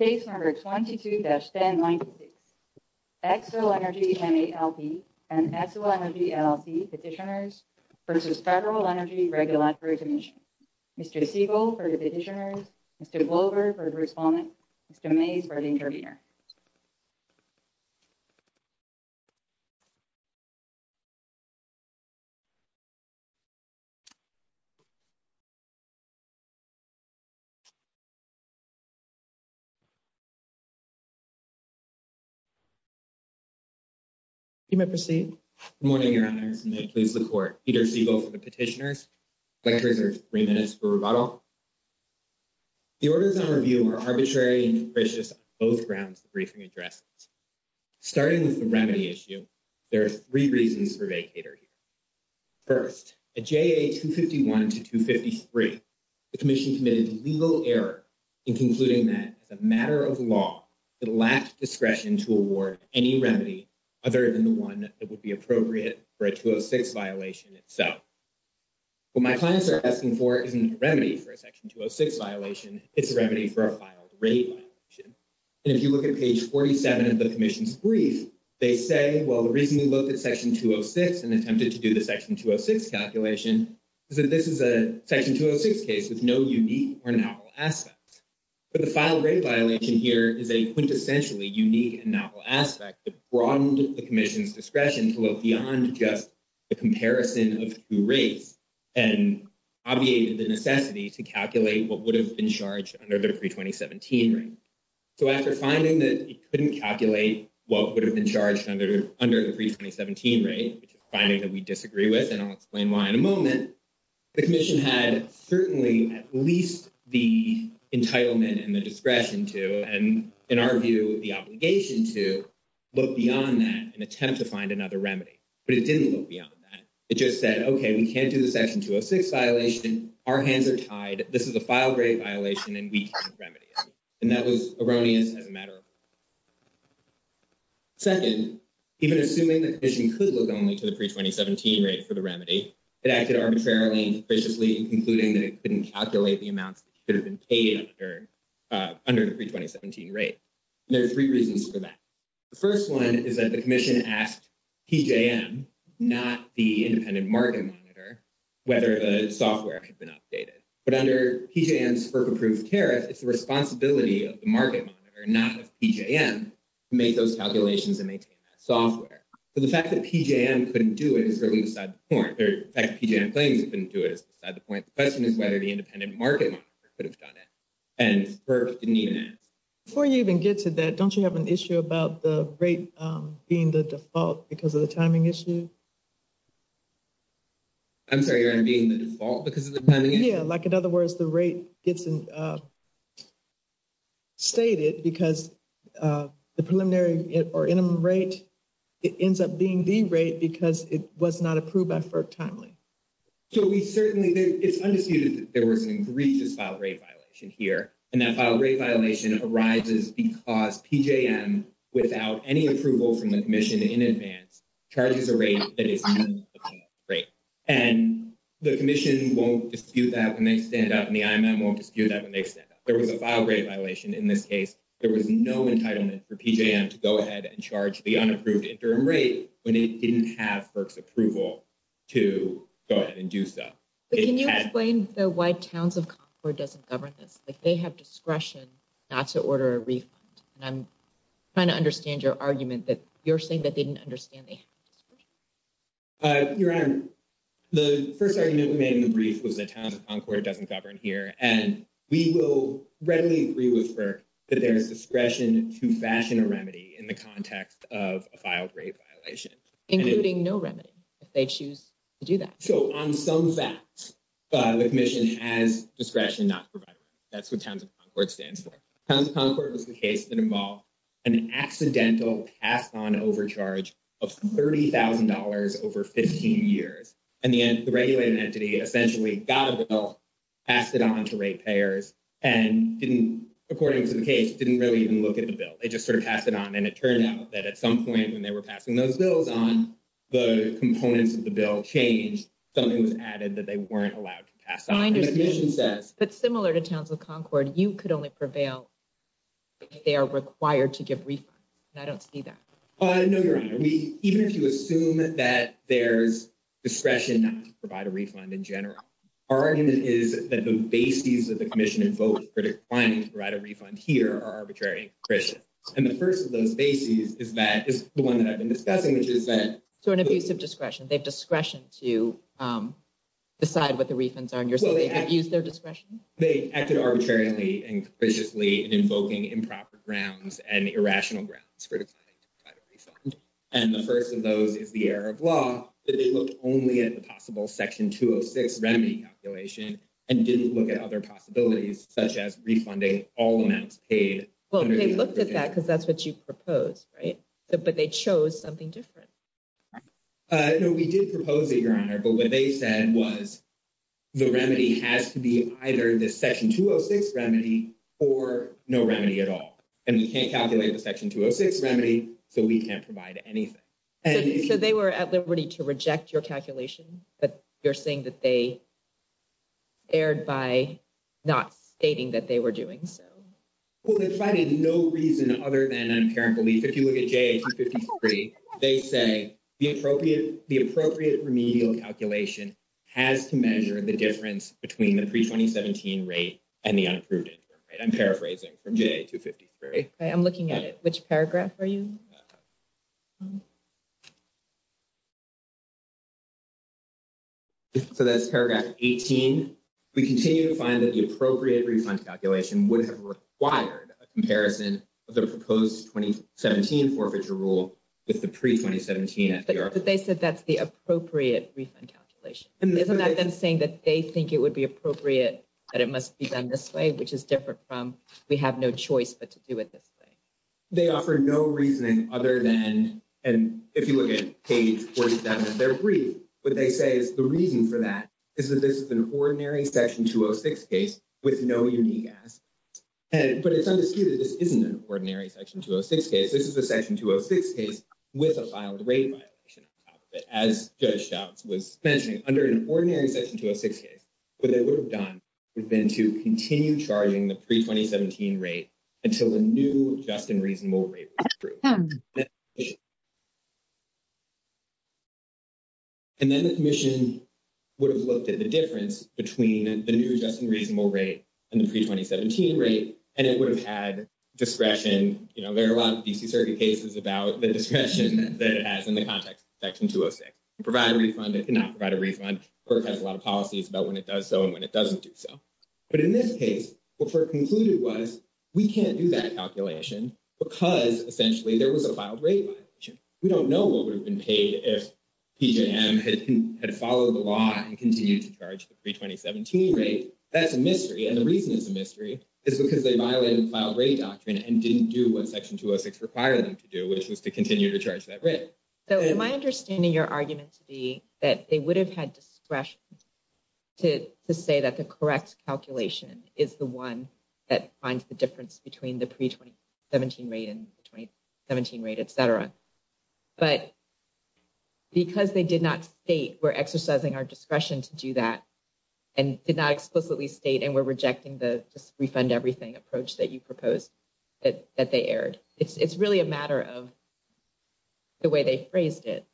Case number 22-1096, XO Energy MA, LP and XO Energy LLC petitioners versus Federal Energy Regulatory Commission. Mr. Siegel for the petitioners, Mr. Glover for the respondent, Mr. Mays for the intervener. You may proceed. Good morning, your honors, and may it please the court. Peter Siegel for the petitioners. Lecturers are 3 minutes for rebuttal. The orders on review are arbitrary and capricious on both grounds of the briefing addresses. Starting with the remedy issue, there are 3 reasons for vacater here. First, at JA 251 to 253, the commission committed legal error in concluding that as a matter of law, it lacked discretion to award any remedy other than the one that would be appropriate for a 206 violation itself. What my clients are asking for isn't a remedy for a section 206 violation, it's a remedy for a filed rate violation. And if you look at page 47 of the commission's brief, they say, well, the reason we looked at section 206 and attempted to do the section 206 calculation is that this is a section 206 case with no unique or novel aspect. But the filed rate violation here is a quintessentially unique and novel aspect that broadened the commission's discretion to look beyond just the comparison of 2 rates and obviated the necessity to calculate what would have been charged under the pre-2017 rate. So, after finding that it couldn't calculate what would have been charged under the pre-2017 rate, which is a finding that we disagree with, and I'll explain why in a moment, the commission had certainly at least the entitlement and the discretion to, and in our view, the obligation to look beyond that and attempt to find another remedy. But it didn't look beyond that. It just said, okay, we can't do the section 206 violation, our hands are tied, this is a filed rate violation, and we can't remedy it. And that was erroneous as a matter of fact. Second, even assuming the commission could look only to the pre-2017 rate for the remedy, it acted arbitrarily and superficially in concluding that it couldn't calculate the amounts that could have been paid under the pre-2017 rate. There are three reasons for that. The first one is that the commission asked PJM, not the Independent Market Monitor, whether the software could have been updated. But under PJM's FERC-approved tariff, it's the responsibility of the Market Monitor, not of PJM, to make those calculations and maintain that software. But the fact that PJM couldn't do it is really beside the point, or the fact that PJM claims it couldn't do it is beside the point. The question is whether the Independent Market Monitor could have done it, and FERC didn't even ask. Before you even get to that, don't you have an issue about the rate being the default because of the timing issue? I'm sorry, you're being the default because of the timing issue? Yeah, like, in other words, the rate gets stated because the preliminary or interim rate, it ends up being the rate because it was not approved by FERC timely. So, we certainly, it's undisputed that there was an egregious file rate violation here, and that file rate violation arises because PJM, without any approval from the commission in advance, charges a rate that is below the default rate. And the commission won't dispute that when they stand up, and the IMM won't dispute that when they stand up. There was a file rate violation in this case. There was no entitlement for PJM to go ahead and charge the unapproved interim rate when it didn't have FERC's approval to go ahead and do so. Can you explain why Towns of Concord doesn't govern this? Like, they have discretion not to order a refund. And I'm trying to understand your argument that you're saying that they didn't understand they had discretion. Your Honor, the first argument we made in the brief was that Towns of Concord doesn't govern here, and we will readily agree with FERC that there is discretion to fashion a remedy in the context of a file rate violation. Including no remedy if they choose to do that. So, on some facts, the commission has discretion not to provide a remedy. That's what Towns of Concord stands for. Towns of Concord was the case that involved an accidental passed on overcharge of $30,000 over 15 years. And the end, the regulated entity essentially got a bill, passed it on to rate payers, and didn't, according to the case, didn't really even look at the bill. They just sort of passed it on and it turned out that at some point when they were passing those bills on, the components of the bill changed. Something was added that they weren't allowed to pass on. But similar to Towns of Concord, you could only prevail if they are required to give refunds. And I don't see that. No, Your Honor. Even if you assume that there's discretion not to provide a refund in general, our argument is that the bases that the commission invoked for declining to provide a refund here are arbitrary and concrete. And the first of those bases is the one that I've been discussing, which is that... So an abuse of discretion, they have discretion to decide what the refunds are and use their discretion? They acted arbitrarily and concretely in invoking improper grounds and irrational grounds for declining to provide a refund, and the first of those is the error of law that they looked only at the possible section 206 remedy calculation and didn't look at other possibilities, such as refunding all amounts paid. Well, they looked at that because that's what you proposed, right? But they chose something different. No, we did propose it, Your Honor, but what they said was the remedy has to be either the section 206 remedy or no remedy at all. And we can't calculate the section 206 remedy, so we can't provide anything. So they were at liberty to reject your calculation, but you're saying that they erred by not stating that they were doing so? Well, they provided no reason other than an apparent belief. If you look at JA 253, they say the appropriate remedial calculation has to measure the difference between the pre-2017 rate and the unapproved income rate. I'm paraphrasing from JA 253. Okay, I'm looking at it. Which paragraph are you? So that's paragraph 18. We continue to find that the appropriate refund calculation would have required a comparison of the proposed 2017 forfeiture rule with the pre-2017 FDR. But they said that's the appropriate refund calculation. Isn't that them saying that they think it would be appropriate that it must be done this way, which is different from we have no choice but to do it this way? They offer no reasoning other than, and if you look at page 47 of their brief, what they say is the reason for that is that this is an ordinary section 206 case with no unique ask. But it's undisputed this isn't an ordinary section 206 case. This is a section 206 case with a filed rate violation on top of it. As Judge Shouts was mentioning, under an ordinary section 206 case, what they would have done would have been to continue charging the pre-2017 rate until the new just and reasonable rate was approved. And then the commission would have looked at the difference between the new just and reasonable rate and the pre-2017 rate, and it would have had discretion. You know, there are a lot of D.C. Circuit cases about the discretion that it has in the context of section 206. Provide a refund. It cannot provide a refund. It has a lot of policies about when it does so and when it doesn't do so. But in this case, what FERC concluded was we can't do that calculation because essentially there was a filed rate violation. We don't know what would have been paid if PJM had followed the law and continued to charge the pre-2017 rate. That's a mystery. And the reason it's a mystery is because they violated the filed rate doctrine and didn't do what section 206 required them to do, which was to continue to charge that rate. So, my understanding your argument to be that they would have had discretion to say that the correct calculation is the one that finds the difference between the pre-2017 rate and the 2017 rate, et cetera. But because they did not state we're exercising our discretion to do that. And did not explicitly state and we're rejecting the refund everything approach that you proposed. That they aired, it's really a matter of. The way they phrased it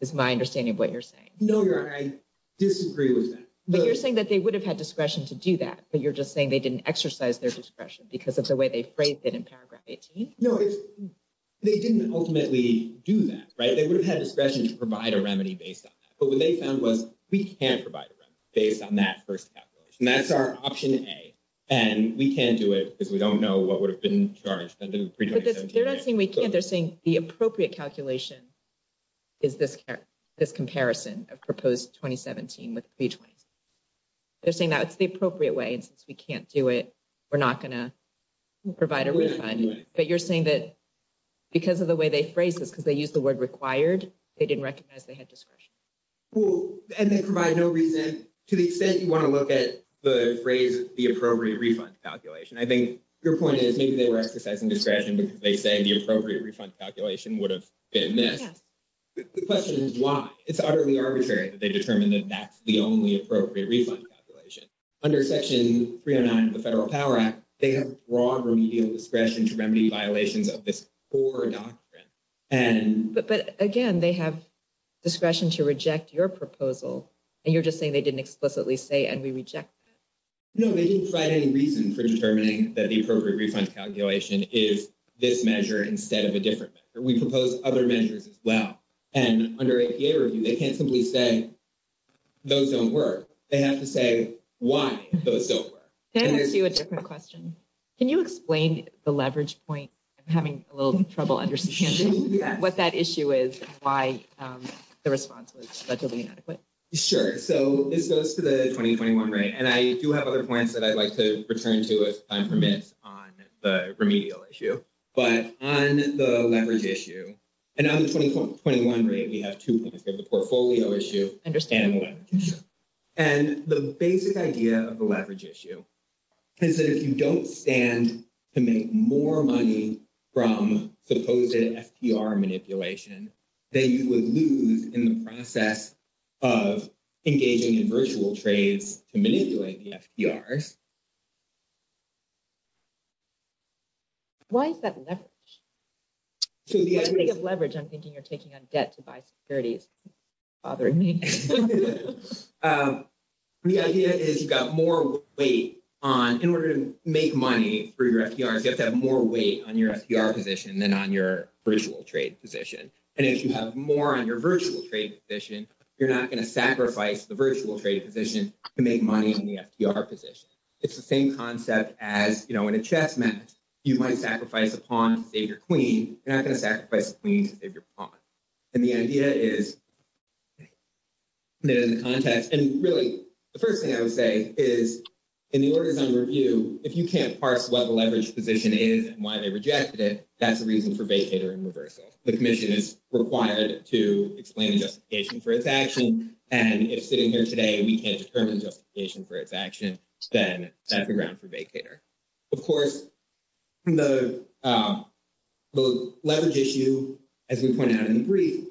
is my understanding of what you're saying. No, I disagree with that. But you're saying that they would have had discretion to do that, but you're just saying they didn't exercise their discretion because of the way they phrased it in paragraph 18. They didn't ultimately do that, right? They would have had discretion to provide a remedy based on that. But what they found was we can't provide a remedy based on that 1st calculation. That's our option A. And we can't do it because we don't know what would have been charged. They're not saying we can't. They're saying the appropriate calculation. Is this this comparison of proposed 2017 with. They're saying that it's the appropriate way and since we can't do it, we're not going to. Provide a refund, but you're saying that because of the way they phrase this, because they use the word required, they didn't recognize they had discretion. Well, and they provide no reason to the extent you want to look at the phrase, the appropriate refund calculation. I think your point is, maybe they were exercising discretion because they say the appropriate refund calculation would have been this. The question is why it's utterly arbitrary that they determine that that's the only appropriate refund calculation. Under section 309 of the federal power act, they have broad remedial discretion to remedy violations of this. And, but, but again, they have discretion to reject your proposal and you're just saying they didn't explicitly say, and we reject. No, they didn't find any reason for determining that the appropriate refund calculation is this measure instead of a different measure. We propose other measures as well. And under a peer review, they can't simply say those don't work. They have to say why those don't work. Can I ask you a different question? Can you explain the leverage point? I'm having a little trouble understanding what that issue is, why the response was legally inadequate. Sure. So it goes to the 2021 rate and I do have other points that I'd like to return to as time permits on the remedial issue, but on the leverage issue. And on the 2021 rate, we have 2 points. We have the portfolio issue and the basic idea of the leverage issue. Is that if you don't stand to make more money. From supposed FDR manipulation. That you would lose in the process of engaging in virtual trades to manipulate the FDR. Why is that leverage? So, the idea of leverage, I'm thinking you're taking a debt to buy securities. Bothering me, the idea is you've got more weight on in order to make money for your FDR. You have to have more weight on your FDR position than on your virtual trade position. And if you have more on your virtual trade position, you're not going to sacrifice the virtual trade position to make money in the FDR position. It's the same concept as in a chess match. You might sacrifice a pawn to save your queen. You're not going to sacrifice a queen to save your pawn. And the idea is, in the context, and really the 1st thing I would say is. In the orders on review, if you can't parse what the leverage position is and why they rejected it, that's the reason for vacater and reversal. The commission is required to explain the justification for its action. And if sitting here today, we can't determine justification for its action. Then that's the ground for vacater. Of course. The leverage issue, as we pointed out in the brief.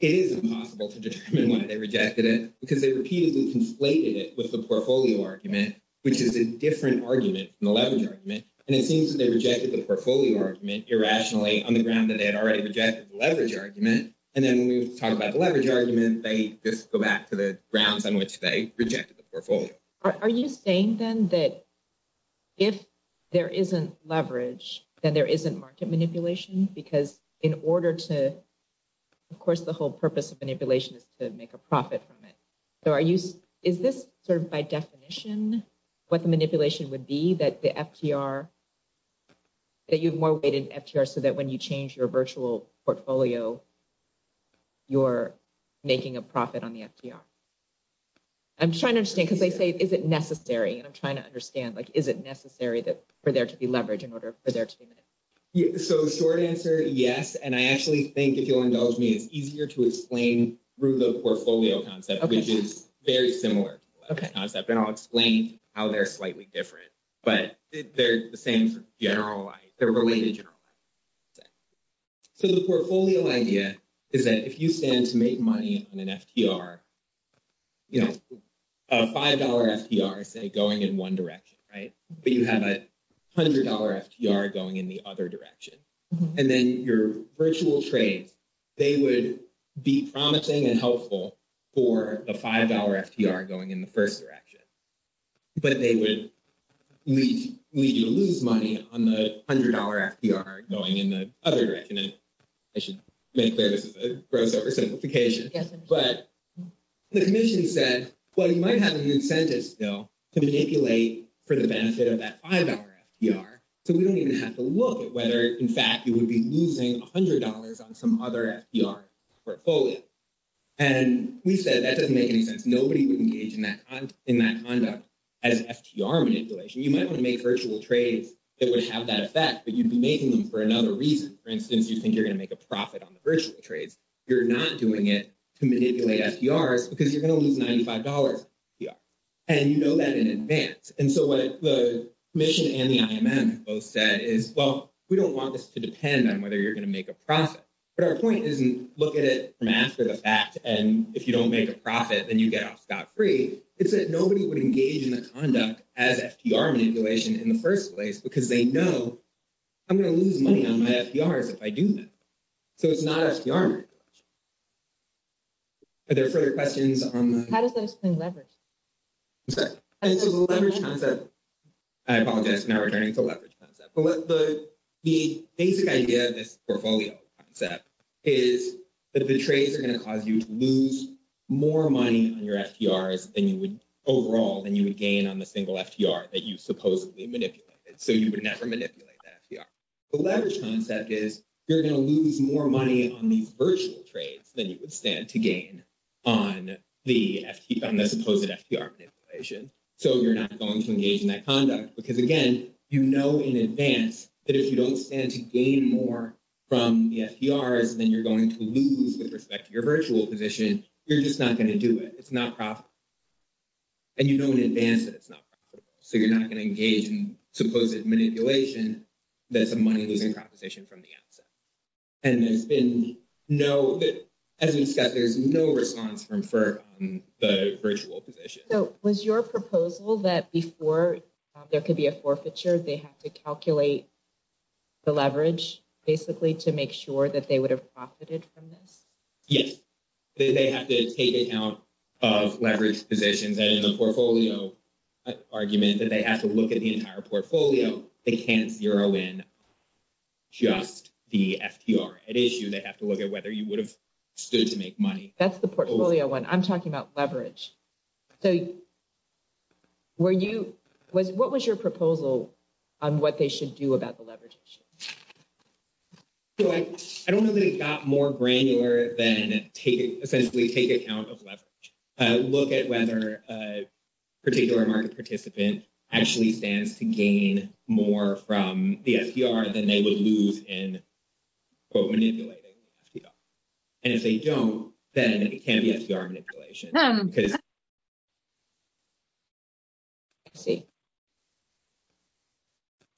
It is impossible to determine why they rejected it because they repeatedly conflated it with the portfolio argument, which is a different argument from the leverage argument. And it seems that they rejected the portfolio argument irrationally on the ground that they had already rejected the leverage argument. And then when we talk about the leverage argument, they just go back to the grounds on which they rejected the portfolio. Are you saying then that if there isn't leverage, then there isn't market manipulation because in order to. Of course, the whole purpose of manipulation is to make a profit from it. So, are you is this sort of by definition what the manipulation would be that the. That you've more weight in so that when you change your virtual portfolio. You're making a profit on the. I'm trying to understand because they say, is it necessary? And I'm trying to understand, like, is it necessary that for there to be leverage in order for there to be. So, short answer, yes, and I actually think if you'll indulge me, it's easier to explain through the portfolio concept, which is very similar. Okay, and I'll explain how they're slightly different, but they're the same general. They're related. So, the portfolio idea is that if you stand to make money on an. You know, a 5 dollar FDR say, going in 1 direction, right? But you have a. 100 dollar FDR going in the other direction and then your virtual trades. They would be promising and helpful for the 5 hour FDR going in the 1st direction. But they would lead you to lose money on the 100 dollar FDR going in the other direction and. I should make clear this is a gross oversimplification, but. The commission said, well, you might have an incentive still to manipulate for the benefit of that 5 hour FDR. So we don't even have to look at whether, in fact, it would be losing 100 dollars on some other FDR. Portfolio, and we said that doesn't make any sense. Nobody would engage in that in that conduct. As FDR manipulation, you might want to make virtual trades. It would have that effect, but you'd be making them for another reason. For instance, you think you're going to make a profit on the virtual trades. You're not doing it to manipulate FDR because you're going to lose 95 dollars. Yeah, and you know that in advance and so what the mission and the both said is, well, we don't want this to depend on whether you're going to make a profit. But our point isn't look at it from after the fact, and if you don't make a profit, then you get off scot free. It's that nobody would engage in the conduct as FDR manipulation in the 1st place because they know I'm going to lose money on my FDRs if I do that. So it's not FDR. Are there further questions? How does this thing leverage? And so the leverage concept, I apologize for not returning to leverage concept, but the basic idea of this portfolio concept is that the trades are going to cause you to lose more money on your FDRs than you would overall than you would gain on the single FDR that you supposedly manipulated, so you would never manipulate that FDR. The leverage concept is you're going to lose more money on these virtual trades than you would stand to gain on the FD on the supposed FDR manipulation. So you're not going to engage in that conduct because again, you know, in advance that if you don't stand to gain more from the FDRs, then you're going to lose with respect to your virtual position. You're just not going to do it. It's not profit. And you know in advance that it's not profitable, so you're not going to engage in supposed manipulation that's a money losing proposition from the outset. And there's been no, as you said, there's no response from FERP on the virtual position. So was your proposal that before there could be a forfeiture, they have to calculate the leverage basically to make sure that they would have profited from this? Yes, they have to take it out of leverage positions and in the portfolio argument that they have to look at the entire portfolio. They can't zero in just the FDR. At issue, they have to look at whether you would have stood to make money. That's the portfolio one. I'm talking about leverage. So were you, what was your proposal on what they should do about the leverage issue? I don't know that it got more granular than essentially take account of leverage. Look at whether a particular market participant actually stands to gain more from the FDR than they would lose in quote manipulating the FDR. And if they don't, then it can't be FDR manipulation. I see.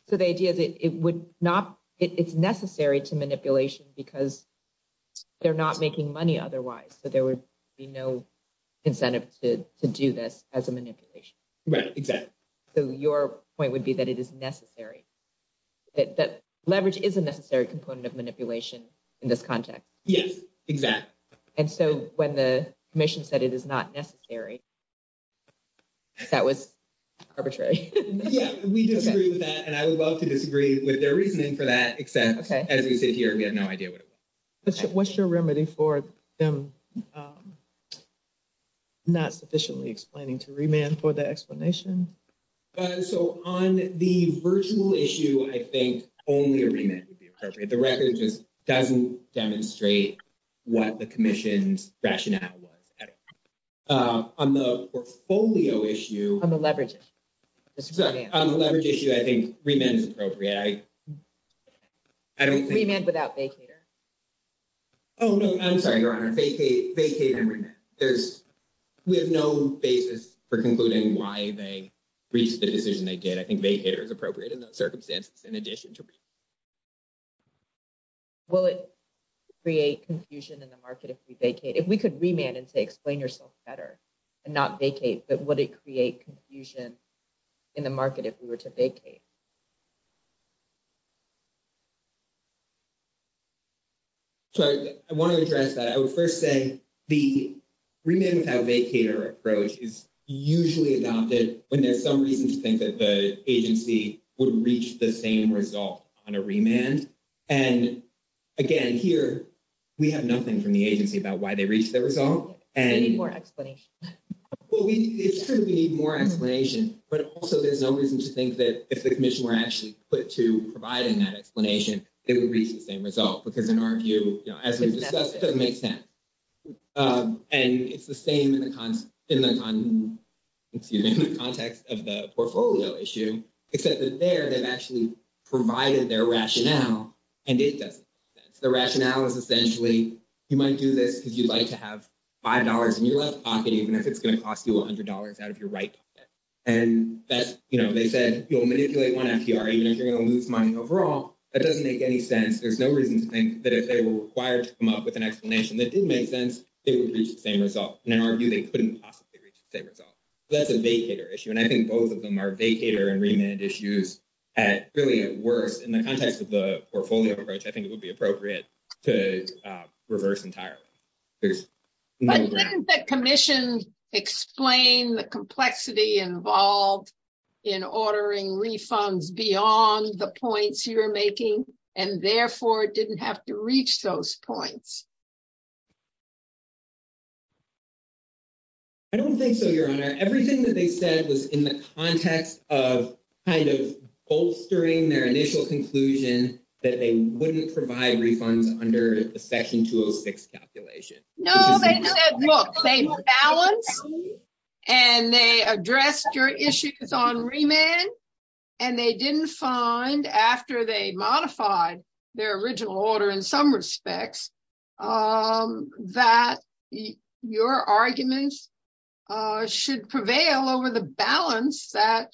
So the idea that it would not, it's necessary to manipulation because they're not making money otherwise. So there would be no incentive to do this as a manipulation. Right, exactly. So your point would be that it is necessary, that leverage is a necessary component of manipulation in this context. Yes, exactly. And so when the commission said it is not necessary, that was arbitrary. Yeah, we disagree with that and I would love to disagree with their reasoning for that, except as we sit here, we have no idea what it was. What's your remedy for them not sufficiently explaining to remand for the explanation? So on the virtual issue, I think only a remand would be appropriate. The record just doesn't demonstrate what the commission's rationale was. On the portfolio issue, on the leverage issue, I think remand is appropriate. Remand without vacater? Oh, no, I'm sorry, Your Honor. Vacate and remand. We have no basis for concluding why they reached the decision they did. I think vacater is appropriate in those circumstances in addition to remand. Will it create confusion in the market if we vacate? If we could remand and say explain yourself better and not vacate, but would it create confusion in the market if we were to vacate? So, I want to address that. I would first say the remand without vacater approach is usually adopted when there's some reason to think that the agency would reach the same result on a remand. And again, here, we have nothing from the agency about why they reached the result. We need more explanation. Well, it's true that we need more explanation, but also there's no reason to think that if the commission were actually put to providing that explanation, it would reach the same result. Because in our view, as we've discussed, it doesn't make sense. And it's the same in the context of the portfolio issue, except that there, they've actually provided their rationale and it doesn't make sense. The rationale is essentially, you might do this because you'd like to have $5 in your left pocket, even if it's going to cost you $100 out of your right pocket. And that's, you know, they said, you'll manipulate one FDR, even if you're going to lose money overall, that doesn't make any sense. There's no reason to think that if they were required to come up with an explanation that did make sense, they would reach the same result. In our view, they couldn't possibly reach the same result. That's a vacator issue, and I think both of them are vacator and remand issues at really at worst in the context of the portfolio approach, I think it would be appropriate to reverse entirely. But didn't the commission explain the complexity involved in ordering refunds beyond the points you're making, and therefore didn't have to reach those points? I don't think so, your honor. Everything that they said was in the context of kind of bolstering their initial conclusion that they wouldn't provide refunds under the section 206 calculation. No, they said, look, they balanced and they addressed your issues on remand. And they didn't find after they modified their original order in some respects, that your arguments should prevail over the balance that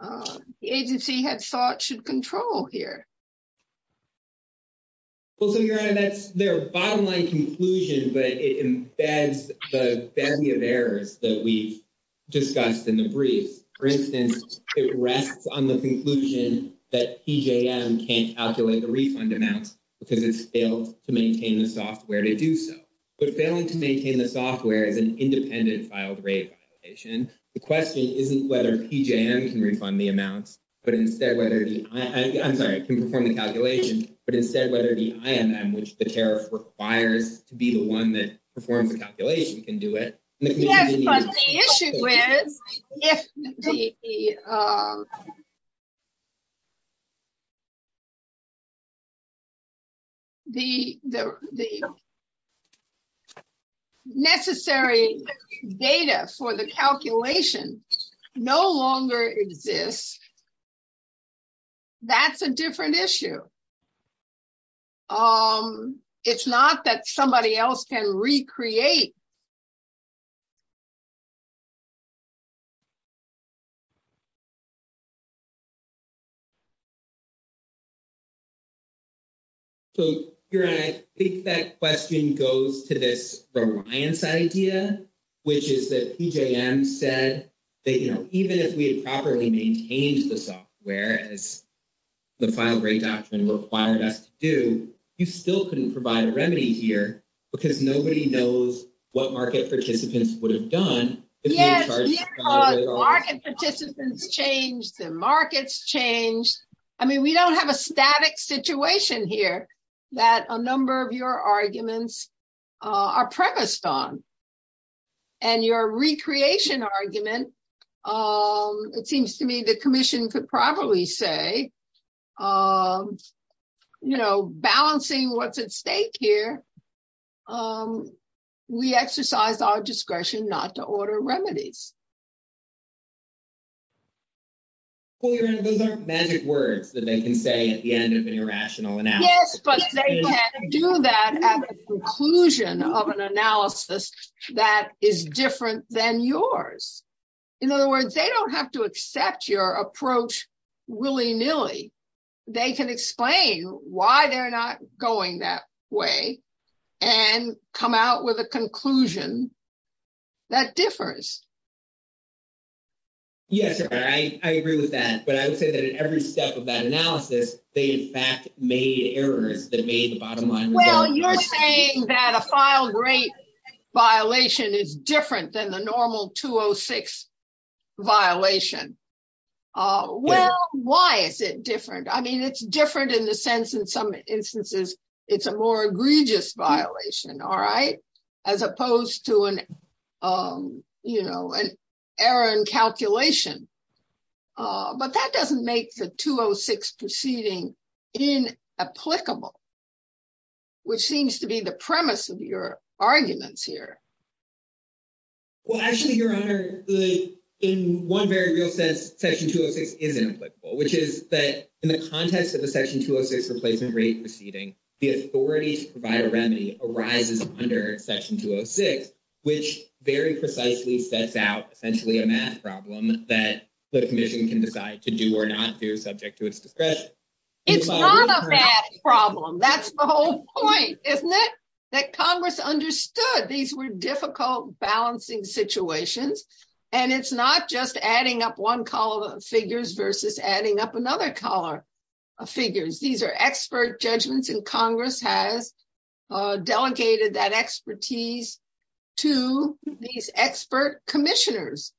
the agency had thought should control here. Well, so your that's their bottom line conclusion, but it embeds the family of errors that we've. Discussed in the briefs, for instance, it rests on the conclusion that can't calculate the refund amounts because it's failed to maintain the software to do so, but failing to maintain the software is an independent filed rate. The question isn't whether can refund the amounts, but instead whether I'm sorry, I can perform the calculation, but instead, whether the, I am, which the tariff requires to be the 1 that performs the calculation can do it. Yes, but the issue is if the. The, the, the necessary data for the calculation, no longer exists. That's a different issue. Um, it's not that somebody else can recreate. So, you're I think that question goes to this idea, which is that said that, you know, even if we had properly maintained the software as. The file rate doctrine required us to do, you still couldn't provide a remedy here because nobody knows what market participants would have done. Yeah. Market participants change the markets change. I mean, we don't have a static situation here that a number of your arguments are premised on, and your recreation argument. Um, it seems to me the commission could probably say, um, you know, balancing what's at stake here. Um, we exercise our discretion not to order remedies. Well, those are magic words that they can say at the end of an irrational analysis. Yes, but do that conclusion of an analysis that is different than yours. In other words, they don't have to accept your approach willy nilly. They can explain why they're not going that way and come out with a conclusion that differs. Yes, I agree with that, but I would say that in every step of that analysis, they in fact made errors that made the bottom line. Well, you're saying that a file rate violation is different than the normal 206 violation. Well, why is it different I mean it's different in the sense in some instances, it's a more egregious violation. All right, as opposed to an, um, you know, an error in calculation. But that doesn't make the 206 proceeding in applicable, which seems to be the premise of your arguments here. Well, actually, Your Honor, in one very real sense, section 206 isn't applicable, which is that in the context of the section 206 replacement rate proceeding, the authority to provide a remedy arises under section 206, which very precisely sets out essentially a math problem that the commission can decide to do or not do subject to its discretion. It's not a math problem. That's the whole point, isn't it? That Congress understood these were difficult balancing situations, and it's not just adding up one column of figures versus adding up another column of figures. These are expert judgments, and Congress has delegated that expertise to these expert commissioners,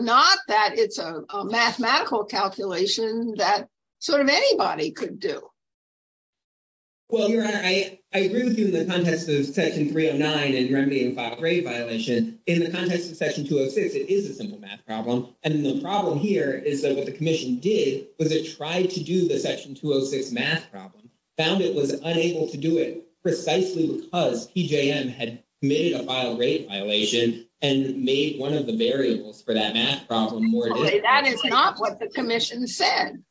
not that it's a mathematical calculation that sort of anybody could do. Well, Your Honor, I agree with you in the context of section 309 and remedying a filed rate violation. In the context of section 206, it is a simple math problem. And the problem here is that what the commission did was it tried to do the section 206 math problem, found it was unable to do it precisely because PJM had committed a filed rate violation and made one of the variables for that math problem more difficult. That is not what the commission said.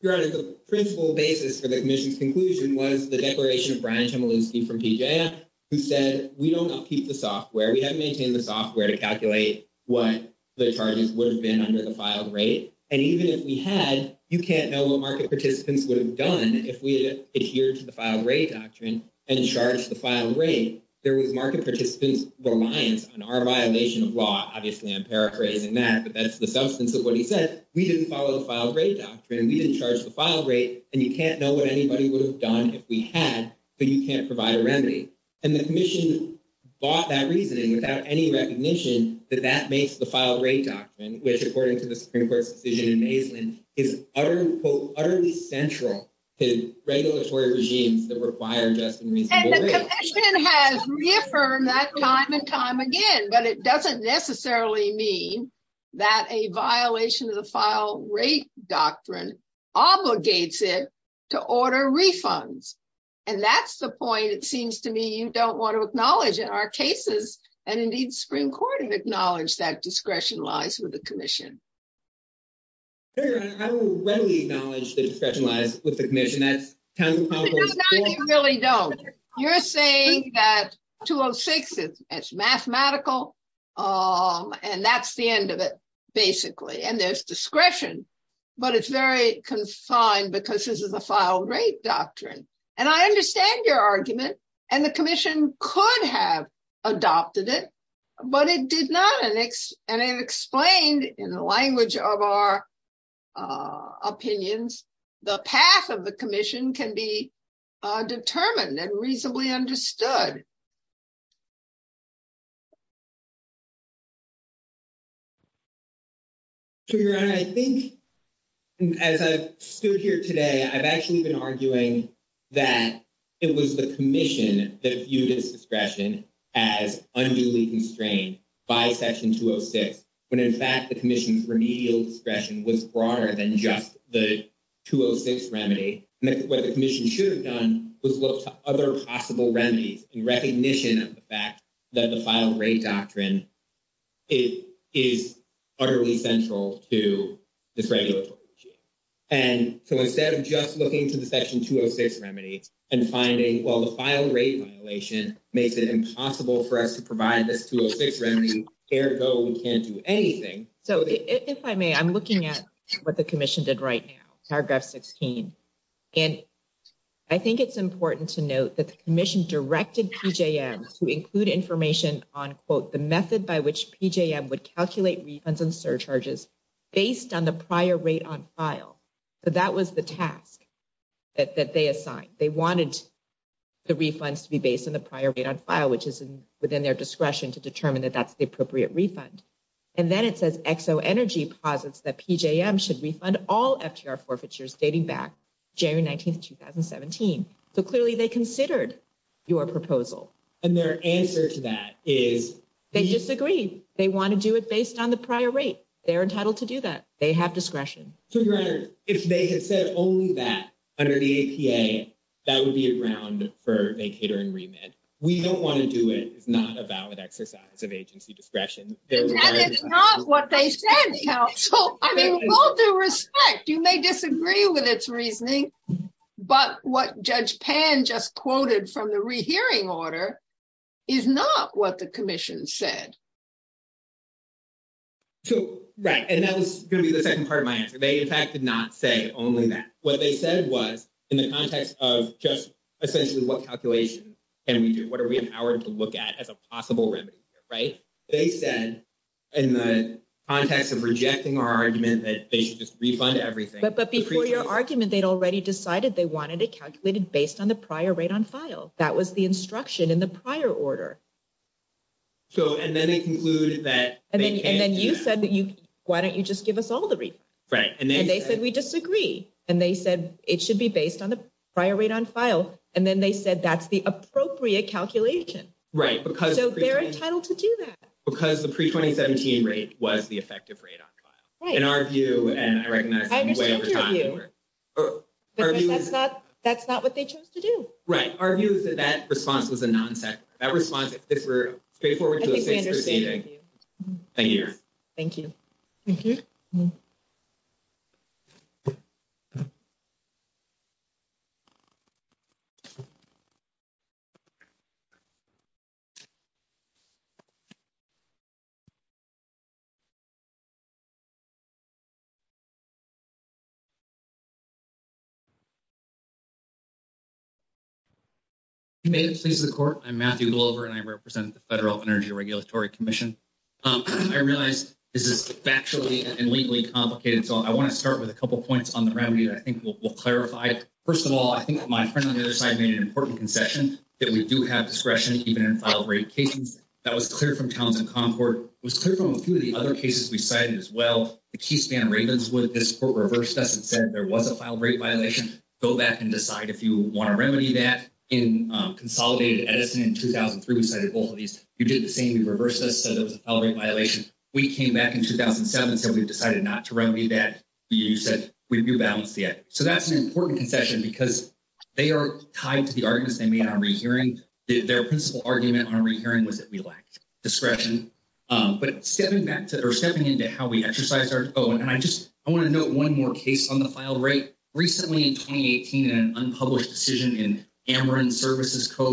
Your Honor, the principle basis for the commission's conclusion was the declaration of Brian Chmielewski from PJM, who said we don't upkeep the software. We haven't maintained the software to calculate what the charges would have been under the filed rate. And even if we had, you can't know what market participants would have done if we had adhered to the filed rate doctrine and charged the filed rate. There was market participants reliance on our violation of law. Obviously, I'm paraphrasing that. But that's the substance of what he said. We didn't follow the filed rate doctrine. We didn't charge the filed rate. And you can't know what anybody would have done if we had, but you can't provide a remedy. And the commission bought that reasoning without any recognition that that makes the filed rate doctrine, which according to the Supreme Court's decision in Maislin, is utterly central to regulatory regimes that require just and reasonable rates. The commission has reaffirmed that time and time again, but it doesn't necessarily mean that a violation of the filed rate doctrine obligates it to order refunds. And that's the point it seems to me you don't want to acknowledge in our cases, and indeed the Supreme Court acknowledged that discretion lies with the commission. I will readily acknowledge that discretion lies with the commission. You really don't. You're saying that 206 is mathematical. And that's the end of it, basically, and there's discretion, but it's very confined because this is a filed rate doctrine, and I understand your argument, and the commission could have adopted it, but it did not, and it explained in the language of our opinions, the path of the commission can be determined and reasonably understood. I think. As I stood here today, I've actually been arguing that it was the commission that viewed discretion as unduly constrained by section 206 when, in fact, the commission's remedial discretion was broader than just the. Section 206 remedy what the commission should have done was look to other possible remedies and recognition of the fact that the file rate doctrine. It is utterly central to this regulatory. And so, instead of just looking to the section 206 remedy and finding, well, the file rate violation makes it impossible for us to provide this 206 remedy. Ergo, we can't do anything. So, if I may, I'm looking at what the commission did right now. And I think it's important to note that the commission directed to include information on quote, the method by which would calculate refunds and surcharges. Based on the prior rate on file, but that was the task. That they assigned they wanted the refunds to be based on the prior rate on file, which is within their discretion to determine that that's the appropriate refund. And then it says XO Energy posits that PJM should refund all FTR forfeitures dating back January 19th, 2017. So, clearly they considered your proposal and their answer to that is they disagree. They want to do it based on the prior rate. They're entitled to do that. They have discretion. So, your honor, if they had said only that under the APA, that would be around for a catering remit. We don't want to do it. It's not a valid exercise of agency discretion. That is not what they said. I mean, with all due respect, you may disagree with its reasoning. But what Judge Pan just quoted from the rehearing order is not what the commission said. So, right and that was going to be the 2nd part of my answer. They, in fact, did not say only that what they said was in the context of just essentially what calculation. And we do, what are we empowered to look at as a possible remedy? Right? They said. In the context of rejecting our argument that they should just refund everything, but before your argument, they'd already decided they wanted it calculated based on the prior rate on file. That was the instruction in the prior order. So, and then they concluded that and then you said that you, why don't you just give us all the right? And they said, we disagree and they said it should be based on the prior rate on file. And then they said, that's the appropriate calculation. Right? Because they're entitled to do that. Because the pre 2017 rate was the effective rate on file in our view, and I recognize that's not what they chose to do. Right? Our view is that that response was a non set that response. If we're straightforward. Thank you. Thank you. Thank you. Thank you. Please the court I'm Matthew over and I represent the federal energy regulatory commission. I realize this is factually and legally complicated, so I want to start with a couple of points on the remedy that I think will clarify. 1st of all, I think my friend on the other side made an important concession that we do have discretion even in filed rate cases. That was clear from towns and concord was clear from a few of the other cases. We cited as well. The key span ravens with this court reversed us and said there was a file rate violation. Go back and decide if you want to remedy that in consolidated Edison in 2003. We cited both of these. You did the same. You reversed us. So there was a violation. We came back in 2007 and said, we've decided not to remedy that. You said we do balance yet. So that's an important concession because. They are tied to the arguments they made on re, hearing their principal argument on re, hearing was that we lacked discretion, but stepping back to stepping into how we exercise our own. And I just, I want to know 1 more case on the file rate recently in 2018 and unpublished decision in. I just want to know that we have a file rate violation that we found equitably there was no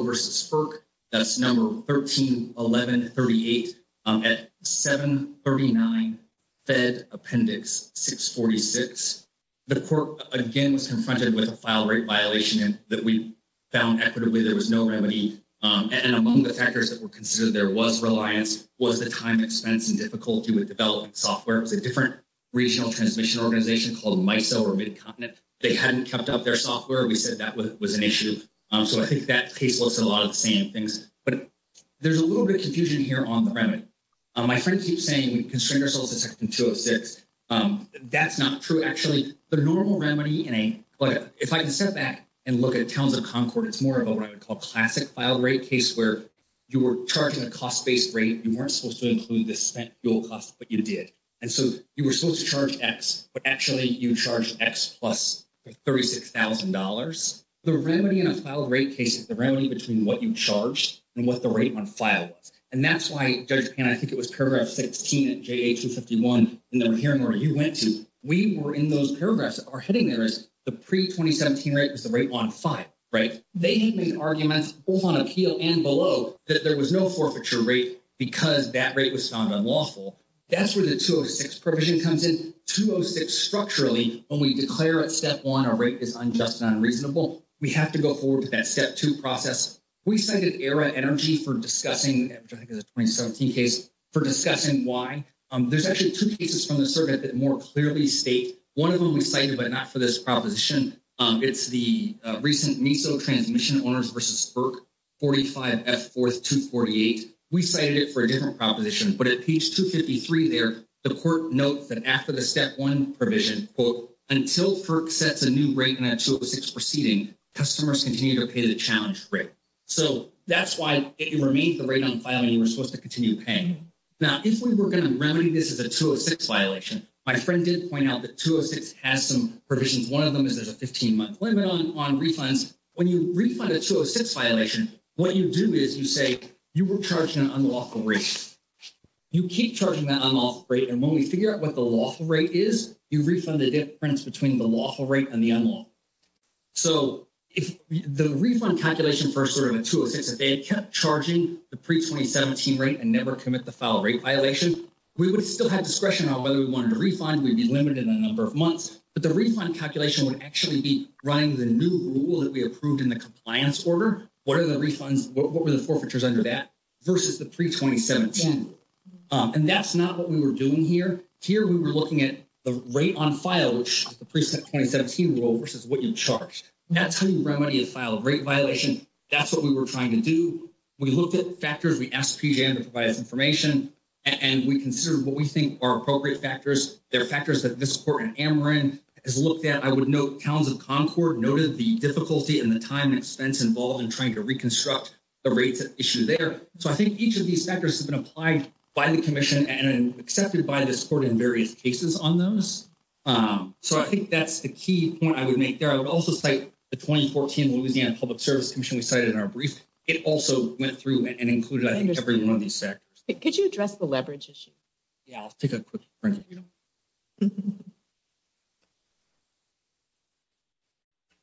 remedy. That's number 131138 at 739 Fed appendix 646. The court again was confronted with a file rate violation that we found equitably. There was no remedy. And among the factors that were considered, there was reliance was the time expense and difficulty with developing software. It was a different regional transmission organization called. They hadn't kept up their software. We said that was an issue. So I think that case was a lot of the same things, but there's a little bit confusion here on the remedy. My friend keeps saying we constrain ourselves to section 206. That's not true. Actually, the normal remedy in a, but if I can sit back and look at towns of Concord, it's more of what I would call classic file rate case where. You were charging a cost based rate. You weren't supposed to include the spent fuel cost, but you did. And so you were supposed to charge X, but actually you charge X plus 36000 dollars. The remedy in a file rate case is the remedy between what you charged and what the rate on file was. And that's why I think it was paragraph 16 at J. H. and 51 hearing where you went to. We were in those paragraphs are hitting there is the pre 2017 rate is the rate on file, right? They made arguments on appeal and below that. There was no forfeiture rate because that rate was found unlawful. That's where the 206 provision comes in 206. Structurally, when we declare at step 1, our rate is unjust and unreasonable. We have to go forward with that step 2 process. We cited era energy for discussing 2017 case for discussing why there's actually 2 cases from the circuit that more clearly state. 1 of them excited, but not for this proposition. It's the recent me. So transmission owners versus 45 at 4th to 48. we cited it for a different proposition, but at page 253 there, the court notes that after the step 1 provision quote, until sets a new break in a 2 or 6 proceeding customers continue to pay the challenge rate. So, that's why it remains the rate on file and you were supposed to continue paying. Now, if we were going to remedy, this is a 2 or 6 violation. My friend did point out that 2 or 6 has some provisions. 1 of them is there's a 15 month limit on on refunds. When you refund a 2 or 6 violation, what you do is you say you were charging an unlawful rate. You keep charging that unlawful rate and when we figure out what the lawful rate is, you refund the difference between the lawful rate and the unlawful. So, if the refund calculation for sort of a 2 or 6, if they kept charging the pre 2017 rate and never commit the file rate violation, we would still have discretion on whether we wanted to refund. We'd be limited in a number of months, but the refund calculation would actually be running the new rule that we approved in the compliance order. So, that's what we were trying to do. We looked at factors. We asked to provide us information and we consider what we think are appropriate factors. There are factors that this court in Ameren has looked at. I would note towns of Concord noted the difficulty and the time and expense involved in doing this. Could you address the leverage issue? Yeah, I'll take a quick break.